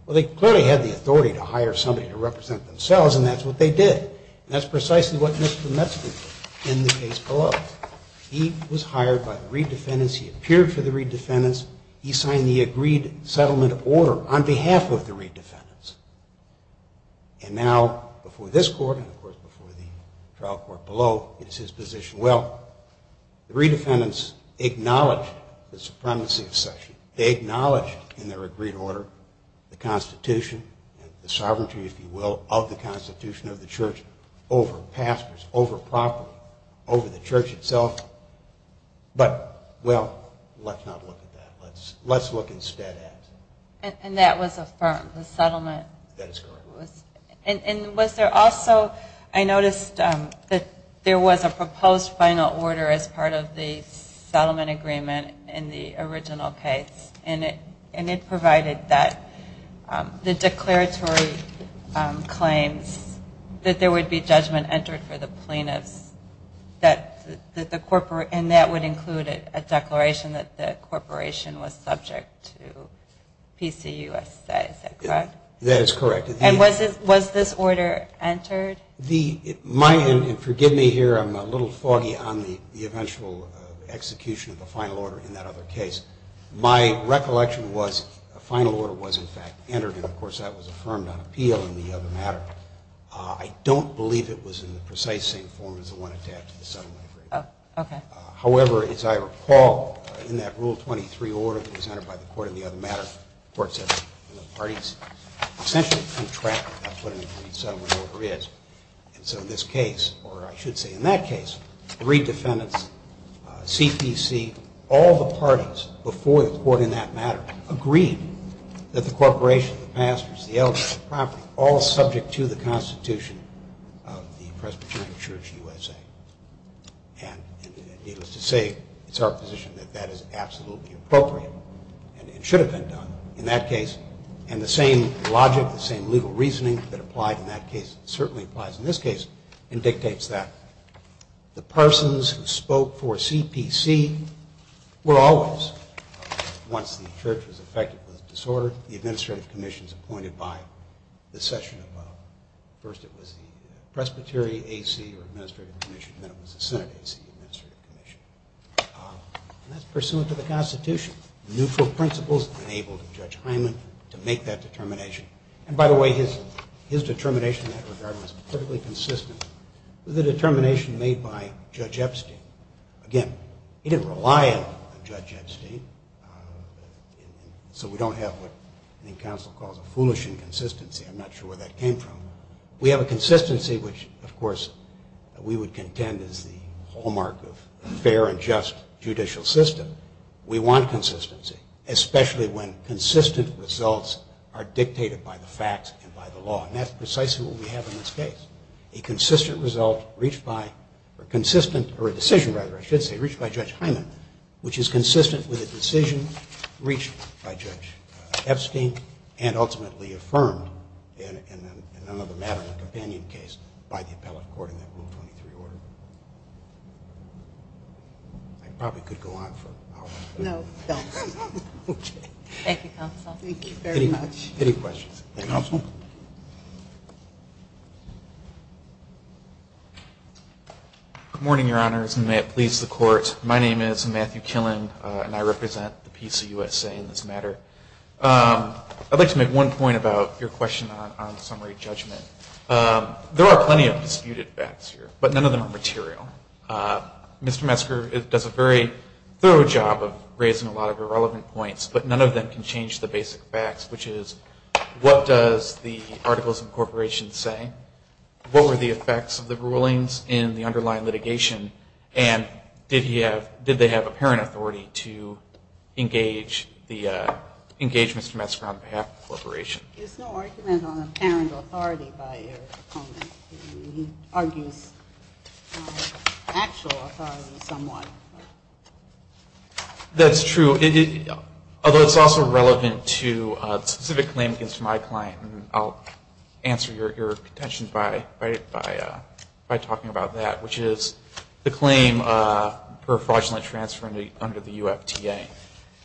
Well, they clearly had the authority to hire somebody to represent themselves, and that's what they did. That's precisely what Mr. Metzger did in the case below. He was hired by the redefendants. He appeared for the redefendants. He signed the agreed settlement of order on behalf of the redefendants. And now, before this court, and, of course, before the trial court below, it's his position, well, the redefendants acknowledged the supremacy exception. They acknowledged in their agreed order the Constitution, the sovereignty, if you will, of the Constitution of the church over pastors, over property, over the church itself. But, well, let's not look at that. Let's look instead at it. And that was affirmed, the settlement. And was there also, I noticed that there was a proposed final order as part of the settlement agreement in the original case, and it provided that the declaratory claims that there would be judgment entered for the plaintiff, and that would include a declaration that the corporation was subject to PCU, I should say. Is that correct? That is correct. And was this order entered? My, and forgive me here, I'm a little foggy on the eventual execution of the final order in that other case. My recollection was a final order was, in fact, entered, and, of course, that was affirmed on appeal in the other matter. I don't believe it was in the precise same form as the one attached to the settlement. Oh, okay. However, as I recall, in that Rule 23 order, it was entered by the court in the other matter, the court said that the parties essentially contracted what the settlement order is. And so in this case, or I should say in that case, three defendants, CPC, all the parties before the court in that matter agreed that the corporation, the pastors, the elders, the property, all subject to the constitution of the Presbyterian Church USA. And it was to say it's our position that that is absolutely appropriate and it should have been done in that case. And the same logic, the same legal reasoning that applied in that case certainly applies in this case and dictates that. The persons who spoke for CPC were all of us. Once the church was affected by the disorder, the administrative commission was appointed by the session of, first it was the Presbyterian AC or administrative commission, then it was the Senate AC or administrative commission. And that's pursuant to the constitution. The neutral principles enabled Judge Heinlein to make that determination. And by the way, his determination in that regard was perfectly consistent with the determination made by Judge Epstein. Again, he didn't rely on Judge Epstein, so we don't have what the counsel calls a foolish inconsistency. I'm not sure where that came from. We have a consistency which, of course, we would contend is the hallmark of a fair and just judicial system. We want consistency, especially when consistent results are dictated by the facts and by the law. And that's precisely what we have in this case. A consistent result reached by a consistent, or a decision rather, I should say, reached by Judge Heinlein, which is consistent with a decision reached by Judge Epstein and ultimately affirmed in another matter, the companion case by the appellate court in that 123 order. I probably could go on for hours. No. Okay. Thank you, counsel. Thank you very much. Any questions? Any questions? Good morning, Your Honors, and may it please the courts. My name is Matthew Killen, and I represent the PCUSA in this matter. I'd like to make one point about your question on summary judgment. There are plenty of disputed facts here, but none of them are material. Mr. Metzger does a very thorough job of raising a lot of irrelevant points, but none of them can change the basic facts, which is what does the articles of incorporation say, what were the effects of the rulings in the underlying litigation, and did they have apparent authority to engage Mr. Metzger on behalf of the corporation? There's no argument on apparent authority by your opponent. He argues actual authority somewhat. That's true, although it's also relevant to a specific claim against my client, and I'll answer your question by talking about that, which is the claim for fraudulent transfer under the UFTA.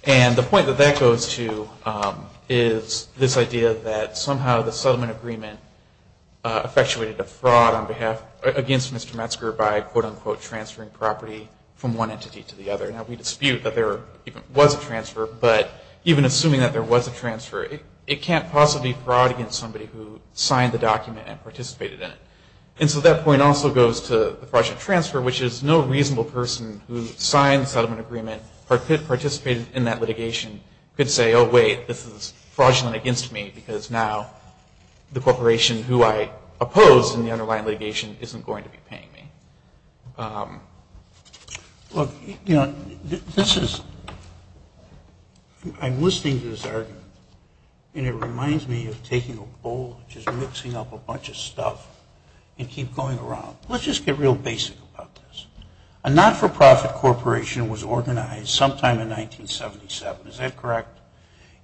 And the point that that goes to is this idea that somehow the settlement agreement effectuated a fraud against Mr. Metzger by, quote, unquote, transferring property from one entity to the other. Now, we dispute that there was a transfer, but even assuming that there was a transfer, it can't possibly fraud against somebody who signed the document and participated in it. And so that point also goes to the fraudulent transfer, which is no reasonable person who signed the settlement agreement, participated in that litigation could say, oh, wait, this is fraudulent against me because now the corporation who I oppose in the underlying litigation isn't going to be paying me. Look, you know, this is, I'm listening to this argument, and it reminds me of taking a bowl and just mixing up a bunch of stuff and keep going around. Let's just get real basic about this. A not-for-profit corporation was organized sometime in 1977. Is that correct?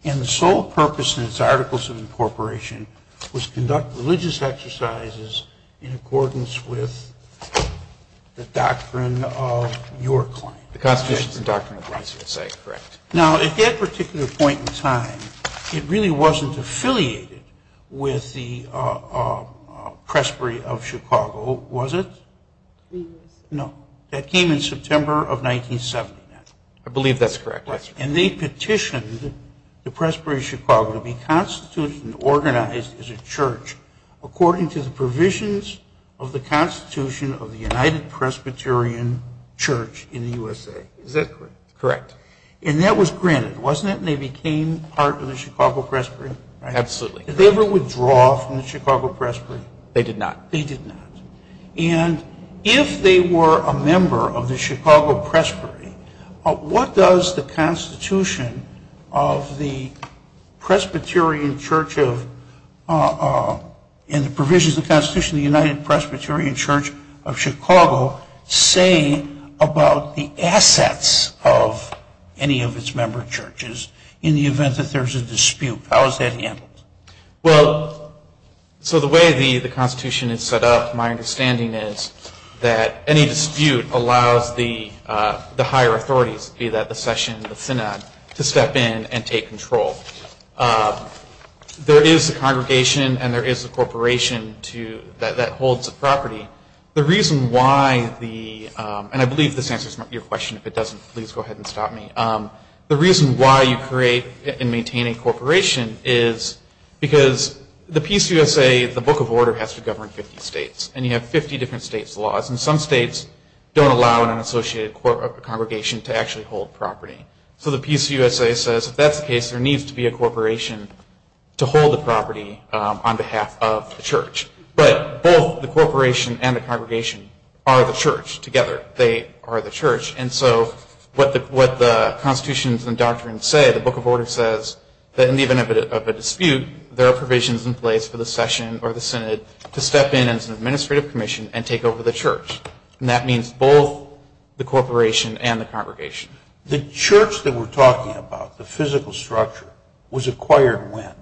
And the sole purpose in its articles of incorporation was to conduct religious exercises in accordance with the doctrine of your claim. The Constitutional Doctrine of Rights, you're saying, correct. Now, at that particular point in time, it really wasn't affiliated with the Presbytery of Chicago, was it? No. That came in September of 1977. I believe that's correct. And they petitioned the Presbytery of Chicago to be constituted and organized as a church according to the provisions of the Constitution of the United Presbyterian Church in the USA. Is that correct? Correct. And that was granted, wasn't it, and they became part of the Chicago Presbytery? Absolutely. Did they ever withdraw from the Chicago Presbytery? They did not. They did not. And if they were a member of the Chicago Presbytery, What does the Constitution of the Presbyterian Church in the provisions of the Constitution of the United Presbyterian Church of Chicago say about the assets of any of its member churches in the event that there's a dispute? How is that handled? Well, so the way the Constitution is set up, my understanding is that any dispute allows the higher authorities, be that the session or the synod, to step in and take control. There is the congregation and there is the corporation that holds the property. The reason why the, and I believe this answers your question. If it doesn't, please go ahead and stop me. The reason why you create and maintain a corporation is because the PCUSA, the Book of Order, has to govern 50 states. And you have 50 different states' laws. And some states don't allow an unassociated congregation to actually hold property. So the PCUSA says if that's the case, there needs to be a corporation to hold the property on behalf of the church. But both the corporation and the congregation are the church together. They are the church. And so what the Constitutions and Doctrines say, the Book of Order says that in the event of a dispute, there are provisions in place for the session or the synod to step in as an administrative commission and take over the church. And that means both the corporation and the congregation. The church that we're talking about, the physical structure, was acquired when?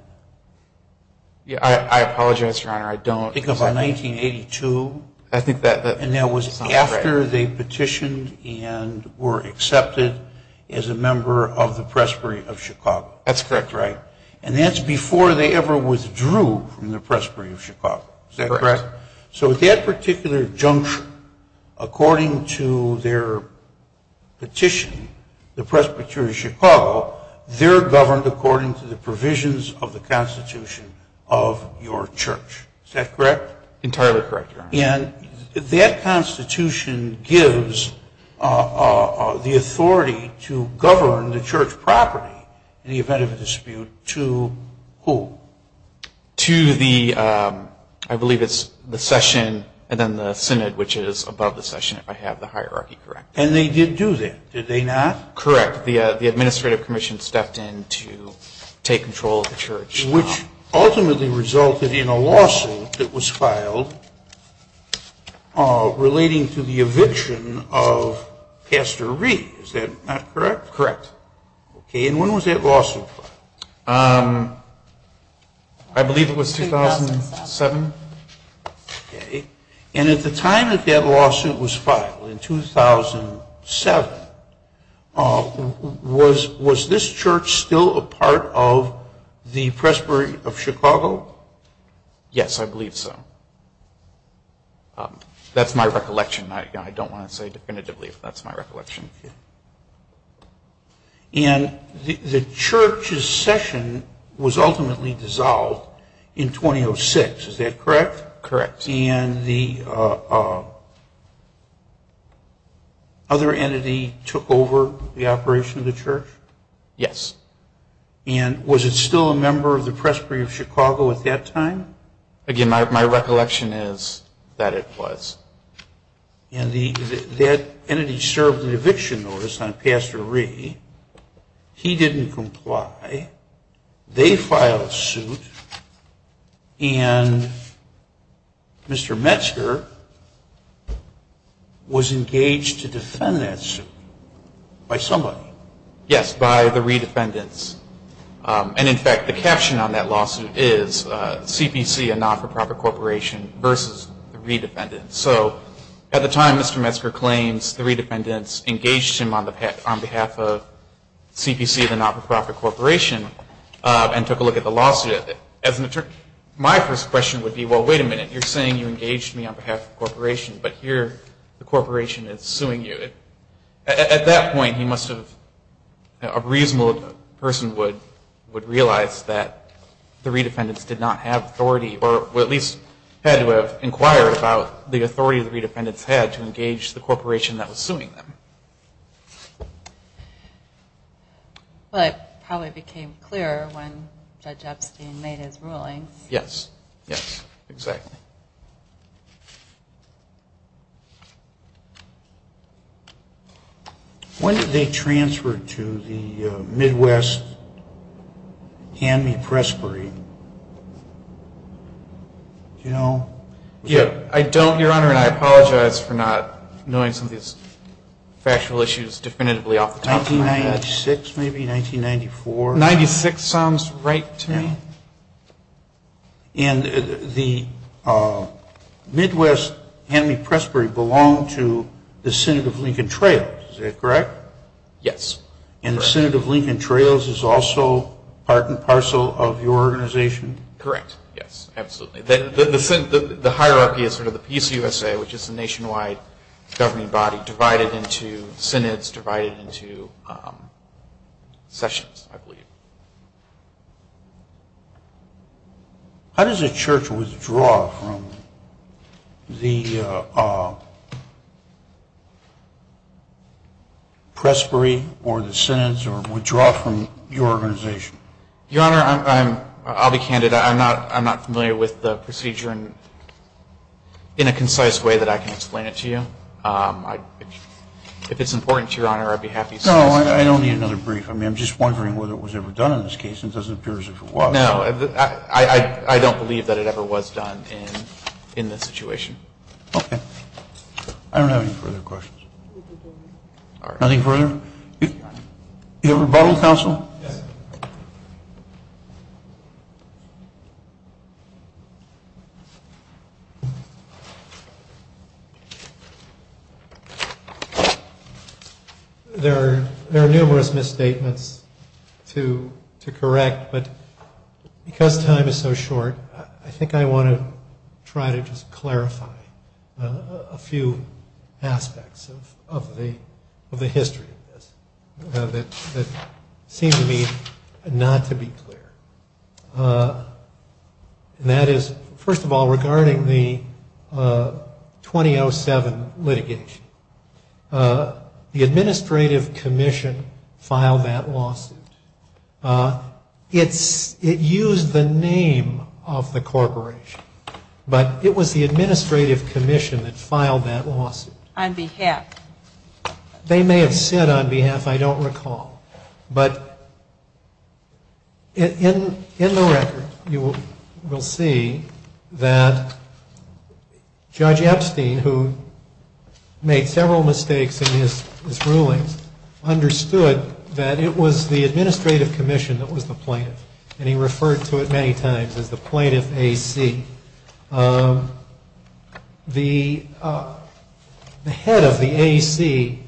I apologize, Your Honor, I don't. Because by 1982? I think that. And that was after they petitioned and were accepted as a member of the Presbytery of Chicago. That's correct, Your Honor. And that's before they ever withdrew from the Presbytery of Chicago. Is that correct? So at that particular juncture, according to their petition, the Presbytery of Chicago, they're governed according to the provisions of the Constitution of your church. Is that correct? Entirely correct, Your Honor. And that Constitution gives the authority to govern the church property in the event of a dispute to who? To the, I believe it's the session and then the synod, which is above the session, if I have the hierarchy correct. And they did do that, did they not? Correct. The administrative commission stepped in to take control of the church. Which ultimately resulted in a lawsuit that was filed relating to the eviction of Pastor Reed. Is that correct? Correct. And when was that lawsuit filed? I believe it was 2007. Okay. And at the time that that lawsuit was filed, in 2007, was this church still a part of the Presbytery of Chicago? Yes, I believe so. That's my recollection. I don't want to say definitively if that's my recollection. And the church's session was ultimately dissolved in 2006. Is that correct? Correct. And the other entity took over the operation of the church? Yes. And was it still a member of the Presbytery of Chicago at that time? Again, my recollection is that it was. And that entity served an eviction notice on Pastor Reed. He didn't comply. They filed a suit. And Mr. Metzger was engaged to defend that suit by somebody. Yes, by the Reed defendants. And, in fact, the caption on that lawsuit is CPC, a not-for-profit corporation, versus the Reed defendants. So at the time Mr. Metzger claims the Reed defendants engaged him on behalf of CPC, the not-for-profit corporation, and took a look at the lawsuit, my first question would be, well, wait a minute, you're saying you engaged me on behalf of the corporation, but here the corporation is suing you. At that point, a reasonable person would realize that the Reed defendants did not have authority, or at least had to inquire about the authority the Reed defendants had to engage the corporation that was suing them. But how it became clear when Judge Epstein made his ruling. Yes, yes, exactly. When did they transfer to the Midwest Hanley Presbytery? I don't, Your Honor, and I apologize for not knowing some of these factual issues definitively off the top of my head. 1996, maybe? 1994? 1996 sounds right to me. And the Midwest Hanley Presbytery belonged to the Synod of Lincoln Trails, is that correct? Yes. And the Synod of Lincoln Trails is also part and parcel of your organization? Correct, yes, absolutely. The hierarchy is sort of the PCUSA, which is the nationwide governing body, How does a church withdraw from the presbytery or the Synod, or withdraw from your organization? Your Honor, I'll be candid, I'm not familiar with the procedure in a concise way that I can explain it to you. If it's important to Your Honor, I'd be happy to. No, I don't need another brief. I'm just wondering whether it was ever done in this case. It doesn't appear as if it was. No, I don't believe that it ever was done in this situation. Okay. I don't have any further questions. Nothing further? Your rebuttal, counsel? Your Honor, there are numerous misstatements to correct, but because time is so short, I think I want to try to just clarify a few aspects of the history of this. That seem to me not to be clear. That is, first of all, regarding the 2007 litigation, the administrative commission filed that lawsuit. It used the name of the corporation, but it was the administrative commission that filed that lawsuit. On behalf. They may have said, on behalf, I don't recall. But in the record, you will see that Judge Epstein, who made several mistakes in his ruling, understood that it was the administrative commission that was the plaintiff. And he referred to it many times as the Plaintiff AC. The head of the AC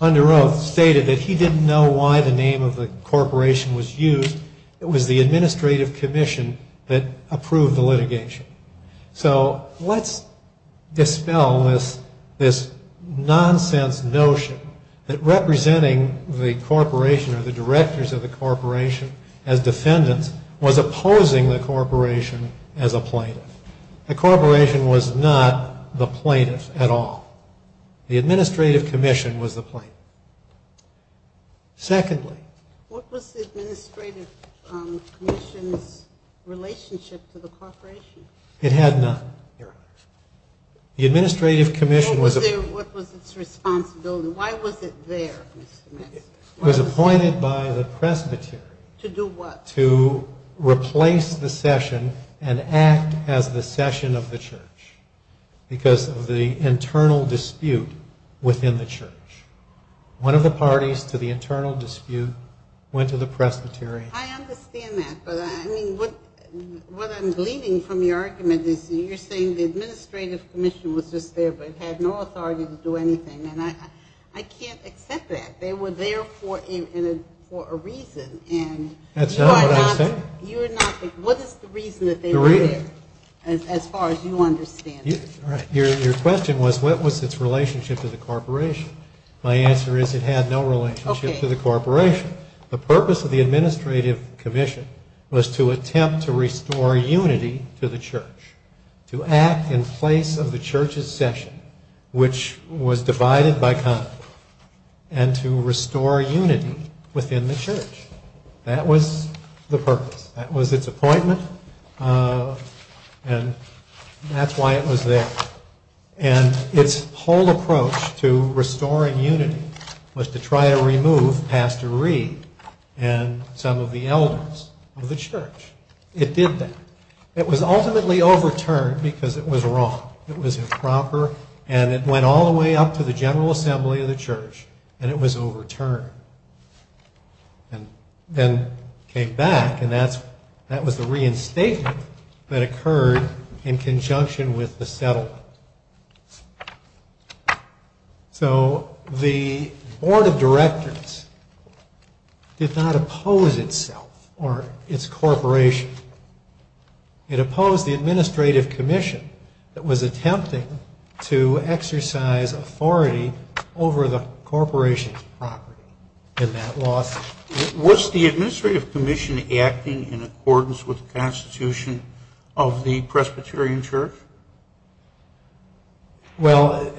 under oath stated that he didn't know why the name of the corporation was used. It was the administrative commission that approved the litigation. So let's dispel this nonsense notion that representing the corporation or the directors of the corporation as defendants was opposing the corporation as a plaintiff. The corporation was not the plaintiff at all. The administrative commission was the plaintiff. Secondly. What was the administrative commission's relationship to the corporation? It had none. The administrative commission was the plaintiff. What was its responsibility? Why was it there? It was appointed by the presbytery. To do what? To replace the session and act as the session of the church. Because of the internal dispute within the church. One of the parties to the internal dispute went to the presbytery. I understand that. But what I'm bleeding from your argument is you're saying the administrative commission was just there but had no authority to do anything. And I can't accept that. They were there for a reason. That's not what I'm saying. What is the reason that they were there as far as you understand it? Your question was what was its relationship to the corporation? My answer is it had no relationship to the corporation. The purpose of the administrative commission was to attempt to restore unity to the church. To act in place of the church's session, which was divided by conflict. And to restore unity within the church. That was the purpose. That was its appointment and that's why it was there. And its whole approach to restoring unity was to try to remove Pastor Reed and some of the elders of the church. It did that. It was ultimately overturned because it was wrong. It was improper and it went all the way up to the General Assembly of the church and it was overturned. And then came back and that was a reinstatement that occurred in conjunction with the settlement. So the Board of Directors did not oppose itself or its corporation. It opposed the administrative commission that was attempting to exercise authority over the corporation's property in that lawsuit. Was the administrative commission acting in accordance with the Constitution of the Presbyterian church? Well,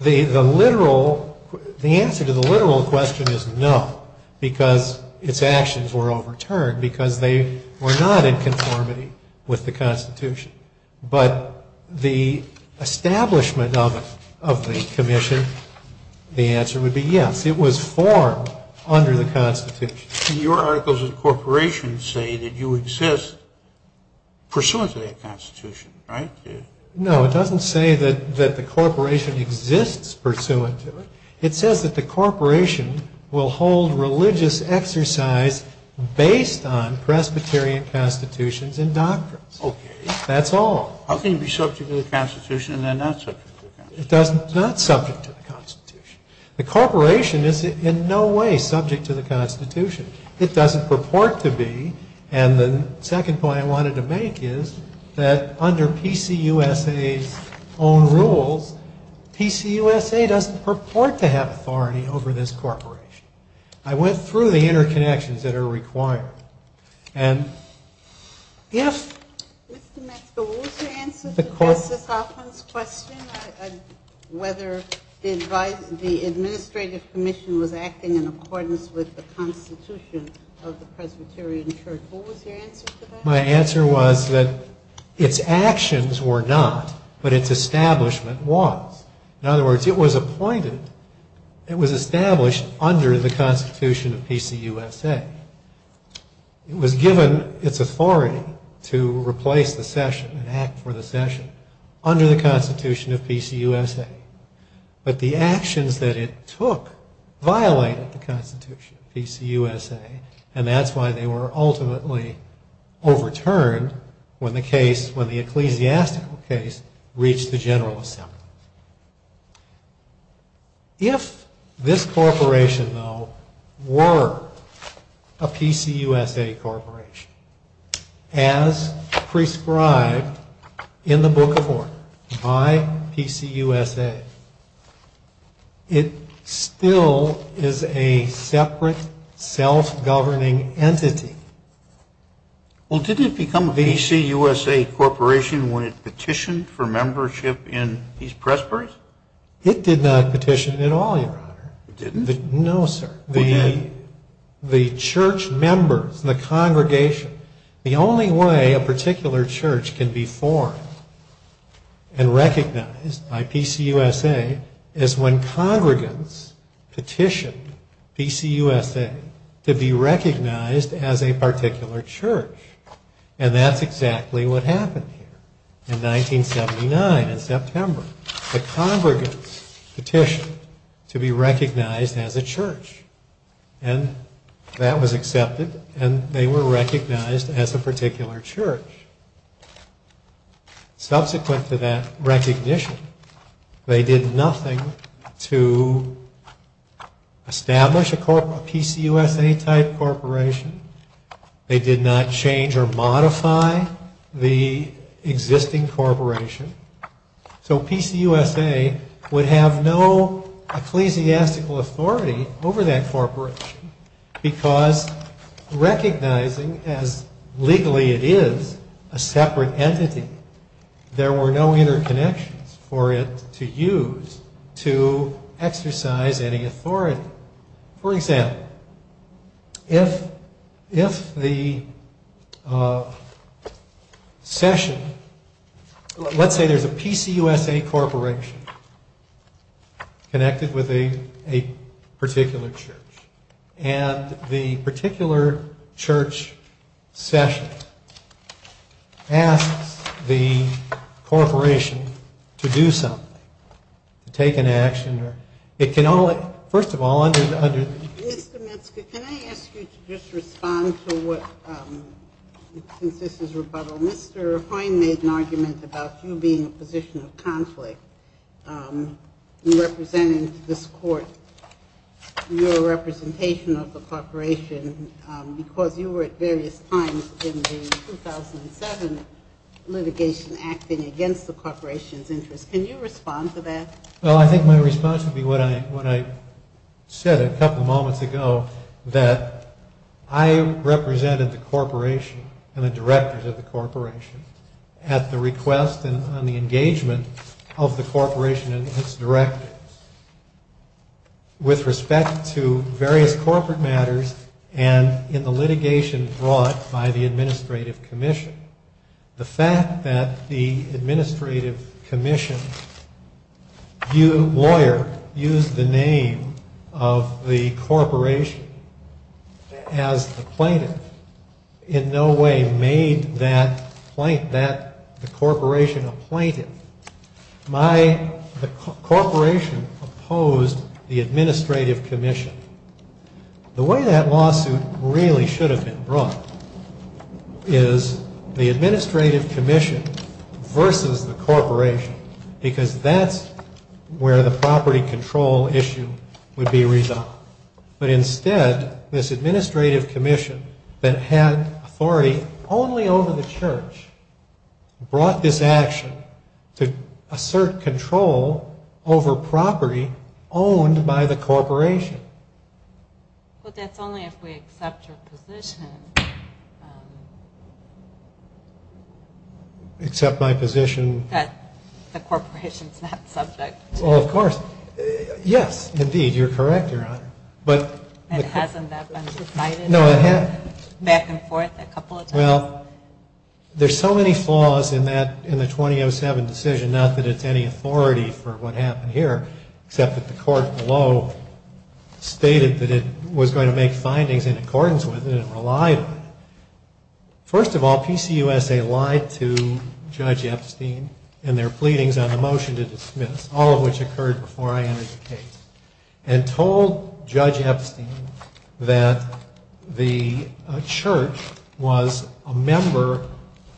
the literal, the answer to the literal question is no. Because its actions were overturned because they were not in conformity with the Constitution. But the establishment of the commission, the answer would be yes. It was formed under the Constitution. Your articles of the corporation say that you exist pursuant to the Constitution, right? No, it doesn't say that the corporation exists pursuant to it. It says that the corporation will hold religious exercise based on Presbyterian constitutions and doctrines. Okay. That's all. How can you be subject to the Constitution and then not subject to the Constitution? It's not subject to the Constitution. The corporation is in no way subject to the Constitution. It doesn't purport to be. And the second point I wanted to make is that under PCUSA's own rule, PCUSA doesn't purport to have authority over this corporation. I went through the interconnections that are required. And yes? Mr. Maxwell, what was your answer to Dr. Kaufman's question on whether the administrative commission was acting in accordance with the Constitution of the Presbyterian church? What was your answer to that? My answer was that its actions were not, but its establishment was. In other words, it was appointed, it was established under the Constitution of PCUSA. It was given its authority to replace the session and act for the session under the Constitution of PCUSA. But the actions that it took violated the Constitution of PCUSA. And that's why they were ultimately overturned when the ecclesiastical case reached the general assembly. If this corporation, though, were a PCUSA corporation, as prescribed in the Book of Mormon by PCUSA, it still is a separate, self-governing entity. Well, did it become a PCUSA corporation when it petitioned for membership in East Presbyterian? It did not petition at all, Your Honor. It didn't? No, sir. It didn't? The church members, the congregation, the only way a particular church can be formed and recognized by PCUSA is when congregants petitioned PCUSA to be recognized as a particular church. And that's exactly what happened here in 1979 in September. The congregants petitioned to be recognized as a church. And that was accepted, and they were recognized as a particular church. Subsequent to that recognition, they did nothing to establish a PCUSA-type corporation. They did not change or modify the existing corporation. So PCUSA would have no ecclesiastical authority over that corporation because recognizing as legally it is a separate entity, there were no interconnections for it to use to exercise any authority. For example, if the session... Let's say there's a PCUSA corporation connected with a particular church, and the particular church session asks the corporation to do something, to take an action. It can only... First of all, I just... Mr. Minster, can I ask you to just respond to what... Mr. Minster, I made an argument about you being in a position of conflict in representing this court, your representation of the corporation, because you were at various times in the 2007 litigation acting against the corporation's interests. Can you respond to that? Well, I think my response would be what I said a couple moments ago, that I represented the corporation and the directors of the corporation at the request and on the engagement of the corporation and its directors with respect to various corporate matters and in the litigation brought by the administrative commission. The fact that the administrative commission's lawyer used the name of the corporation as the plaintiff in no way made that the corporation a plaintiff. The corporation opposed the administrative commission. The way that lawsuit really should have been brought is the administrative commission versus the corporation, because that's where the property control issue would be resolved. But instead, this administrative commission that had authority only over the church brought this action to assert control over property owned by the corporation. But that's only if we accept your position. Accept my position? That the corporation's not subject. Well, of course. Yes, indeed. You're correct, Your Honor. And hasn't that been decided back and forth a couple of times? Well, there's so many flaws in the 2007 decision, not that it's any authority for what happened here, except that the court below stated that it was going to make findings in accordance with it First of all, PCUSA lied to Judge Epstein in their pleadings on the motion to dismiss, all of which occurred before I entered the case, and told Judge Epstein that the church was a member,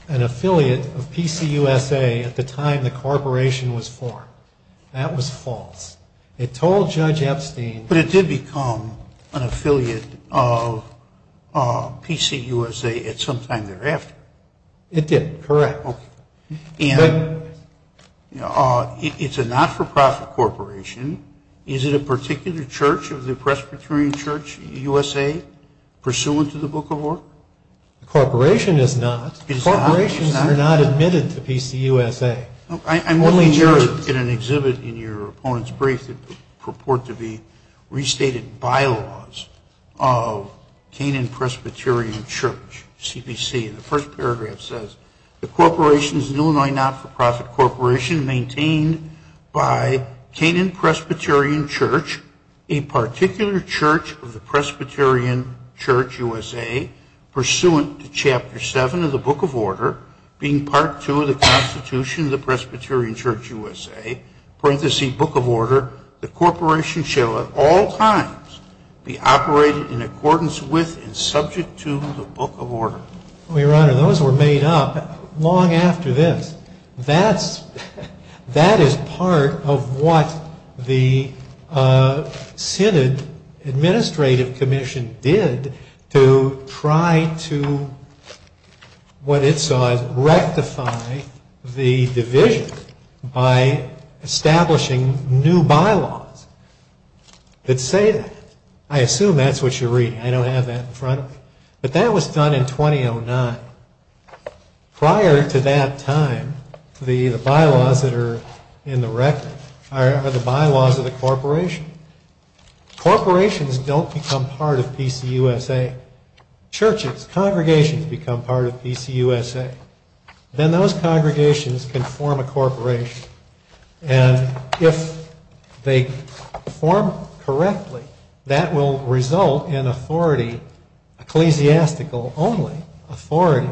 an affiliate of PCUSA at the time the corporation was formed. That was false. But it did become an affiliate of PCUSA at some time thereafter. It did, correct. And it's a not-for-profit corporation. Is it a particular church, the Presbyterian Church USA, pursuant to the book of work? The corporation is not. Corporations are not admitted to PCUSA. I'm only here in an exhibit in your opponent's brief that would purport to be restated bylaws of Canaan Presbyterian Church, CPC. The first paragraph says, the corporation is a Illinois not-for-profit corporation maintained by Canaan Presbyterian Church, a particular church of the Presbyterian Church USA, pursuant to Chapter 7 of the Book of Order, being Part 2 of the Constitution of the Presbyterian Church USA, parenthesis, Book of Order, the corporation shall at all times be operated in accordance with and subject to the Book of Order. Your Honor, those were made up long after this. That is part of what the Synod Administrative Commission did to try to what it saw as rectify the divisions by establishing new bylaws that say that. I assume that's what you're reading. I don't have that in front of me. But that was done in 2009. Prior to that time, the bylaws that are in the record are the bylaws of the corporation. Corporations don't become part of PC USA. Churches, congregations become part of PC USA. Then those congregations can form a corporation. And if they form it correctly, that will result in authority ecclesiastical only, authority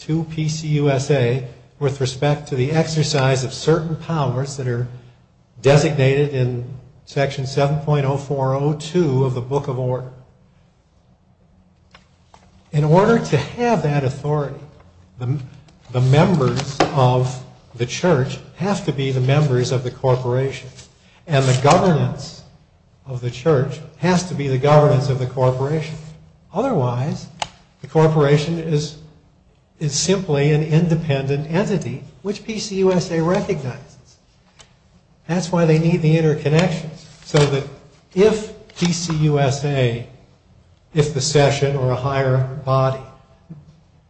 to PC USA with respect to the exercise of certain powers that are designated in Section 7.0402 of the Book of Order. In order to have that authority, the members of the church have to be the members of the corporation. And the governance of the church has to be the governance of the corporation. Otherwise, the corporation is simply an independent entity, which PC USA recognizes. That's why they need the interconnections, so that if PC USA, if the session or a higher body,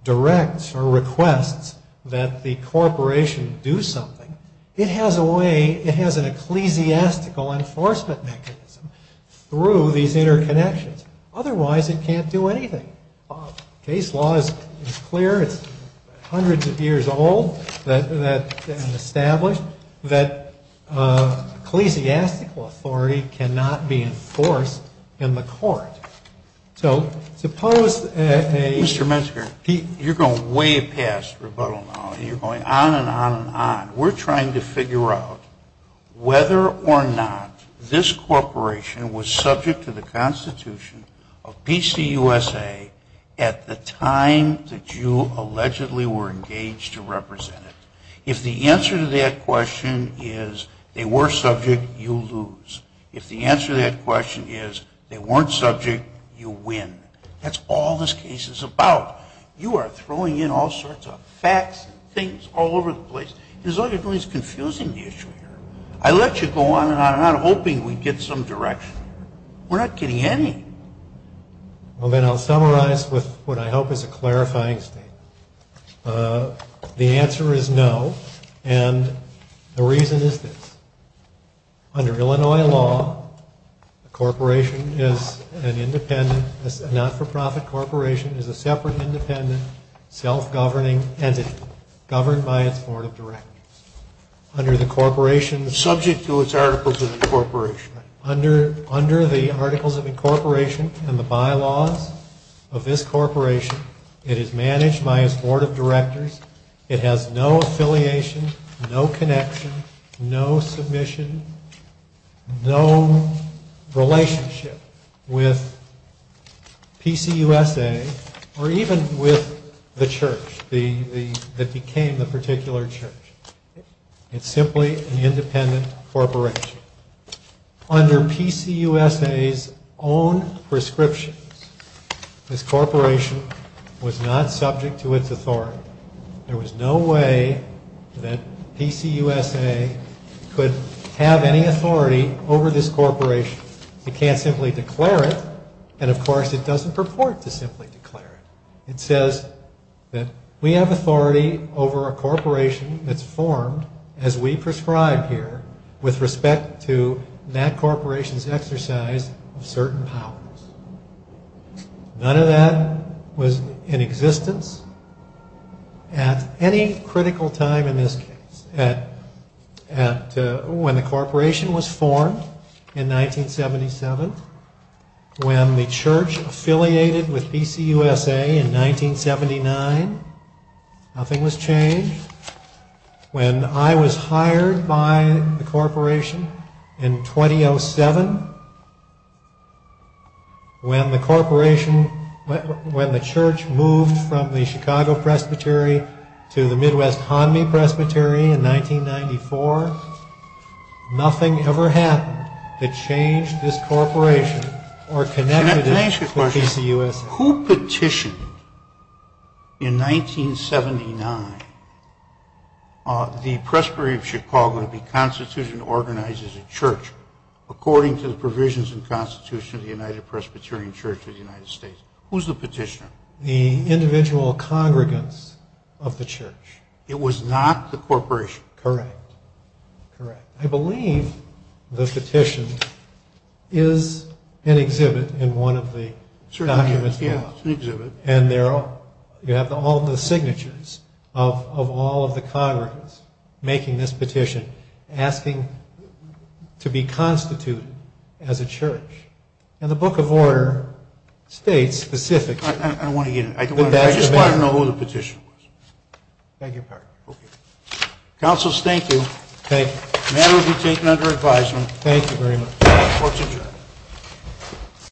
directs or requests that the corporation do something, it has a way, it has an ecclesiastical enforcement mechanism through these interconnections. Otherwise, it can't do anything. Case law is clear. It's hundreds of years old and established that ecclesiastical authority cannot be enforced in the court. So, suppose that a... Mr. Metzger, you're going way past rebuttal now. You're going on and on and on. We're trying to figure out whether or not this corporation was subject to the Constitution of PC USA at the time that you allegedly were engaged to represent it. If the answer to that question is they were subject, you lose. If the answer to that question is they weren't subject, you win. That's all this case is about. You are throwing in all sorts of facts and things all over the place. There's nothing that's confusing the issue here. I let you go on and on. I'm not hoping we get some direction. We're not getting any. Well, then I'll summarize with what I hope is a clarifying statement. The answer is no, and the reason is this. Under Illinois law, a corporation is an independent, a not-for-profit corporation is a separate, independent, self-governing entity governed by its board of directors. Under the corporation... Subject to its articles of incorporation. Under the articles of incorporation and the bylaws of this corporation, it is managed by its board of directors. It has no affiliations, no connections, no submission, no relationship with PCUSA, or even with the church that became the particular church. It's simply an independent corporation. Under PCUSA's own prescriptions, this corporation was not subject to its authority. There was no way that PCUSA could have any authority over this corporation. You can't simply declare it, and of course it doesn't purport to simply declare it. It says that we have authority over a corporation that's formed, as we prescribe here, with respect to that corporation's exercise of certain powers. None of that was in existence at any critical time in this case. When the corporation was formed in 1977, when the church affiliated with PCUSA in 1979, nothing was changed. When I was hired by the corporation in 2007, when the corporation, when the church moved from the Chicago Presbytery to the Midwest Pondy Presbytery in 1994, nothing ever happened to change this corporation, or connect it to PCUSA. Can I ask you a question? Who petitioned, in 1979, the Presbytery of Chicago to be constituted and organized as a church, according to the provisions and constitution of the United Presbyterian Church of the United States? Who's the petitioner? The individual congregants of the church. It was not the corporation. Correct. Correct. I believe the petition is an exhibit in one of the documents. Yes, it's an exhibit. And you have all the signatures of all of the congregants making this petition, asking to be constituted as a church. And the book of order states specifically... I don't want to get into that. I just want to know who the petitioner was. Thank you, Park. Okay. Counsel, thank you. Thank you. That will be taken under advisement. Thank you very much. Thank you.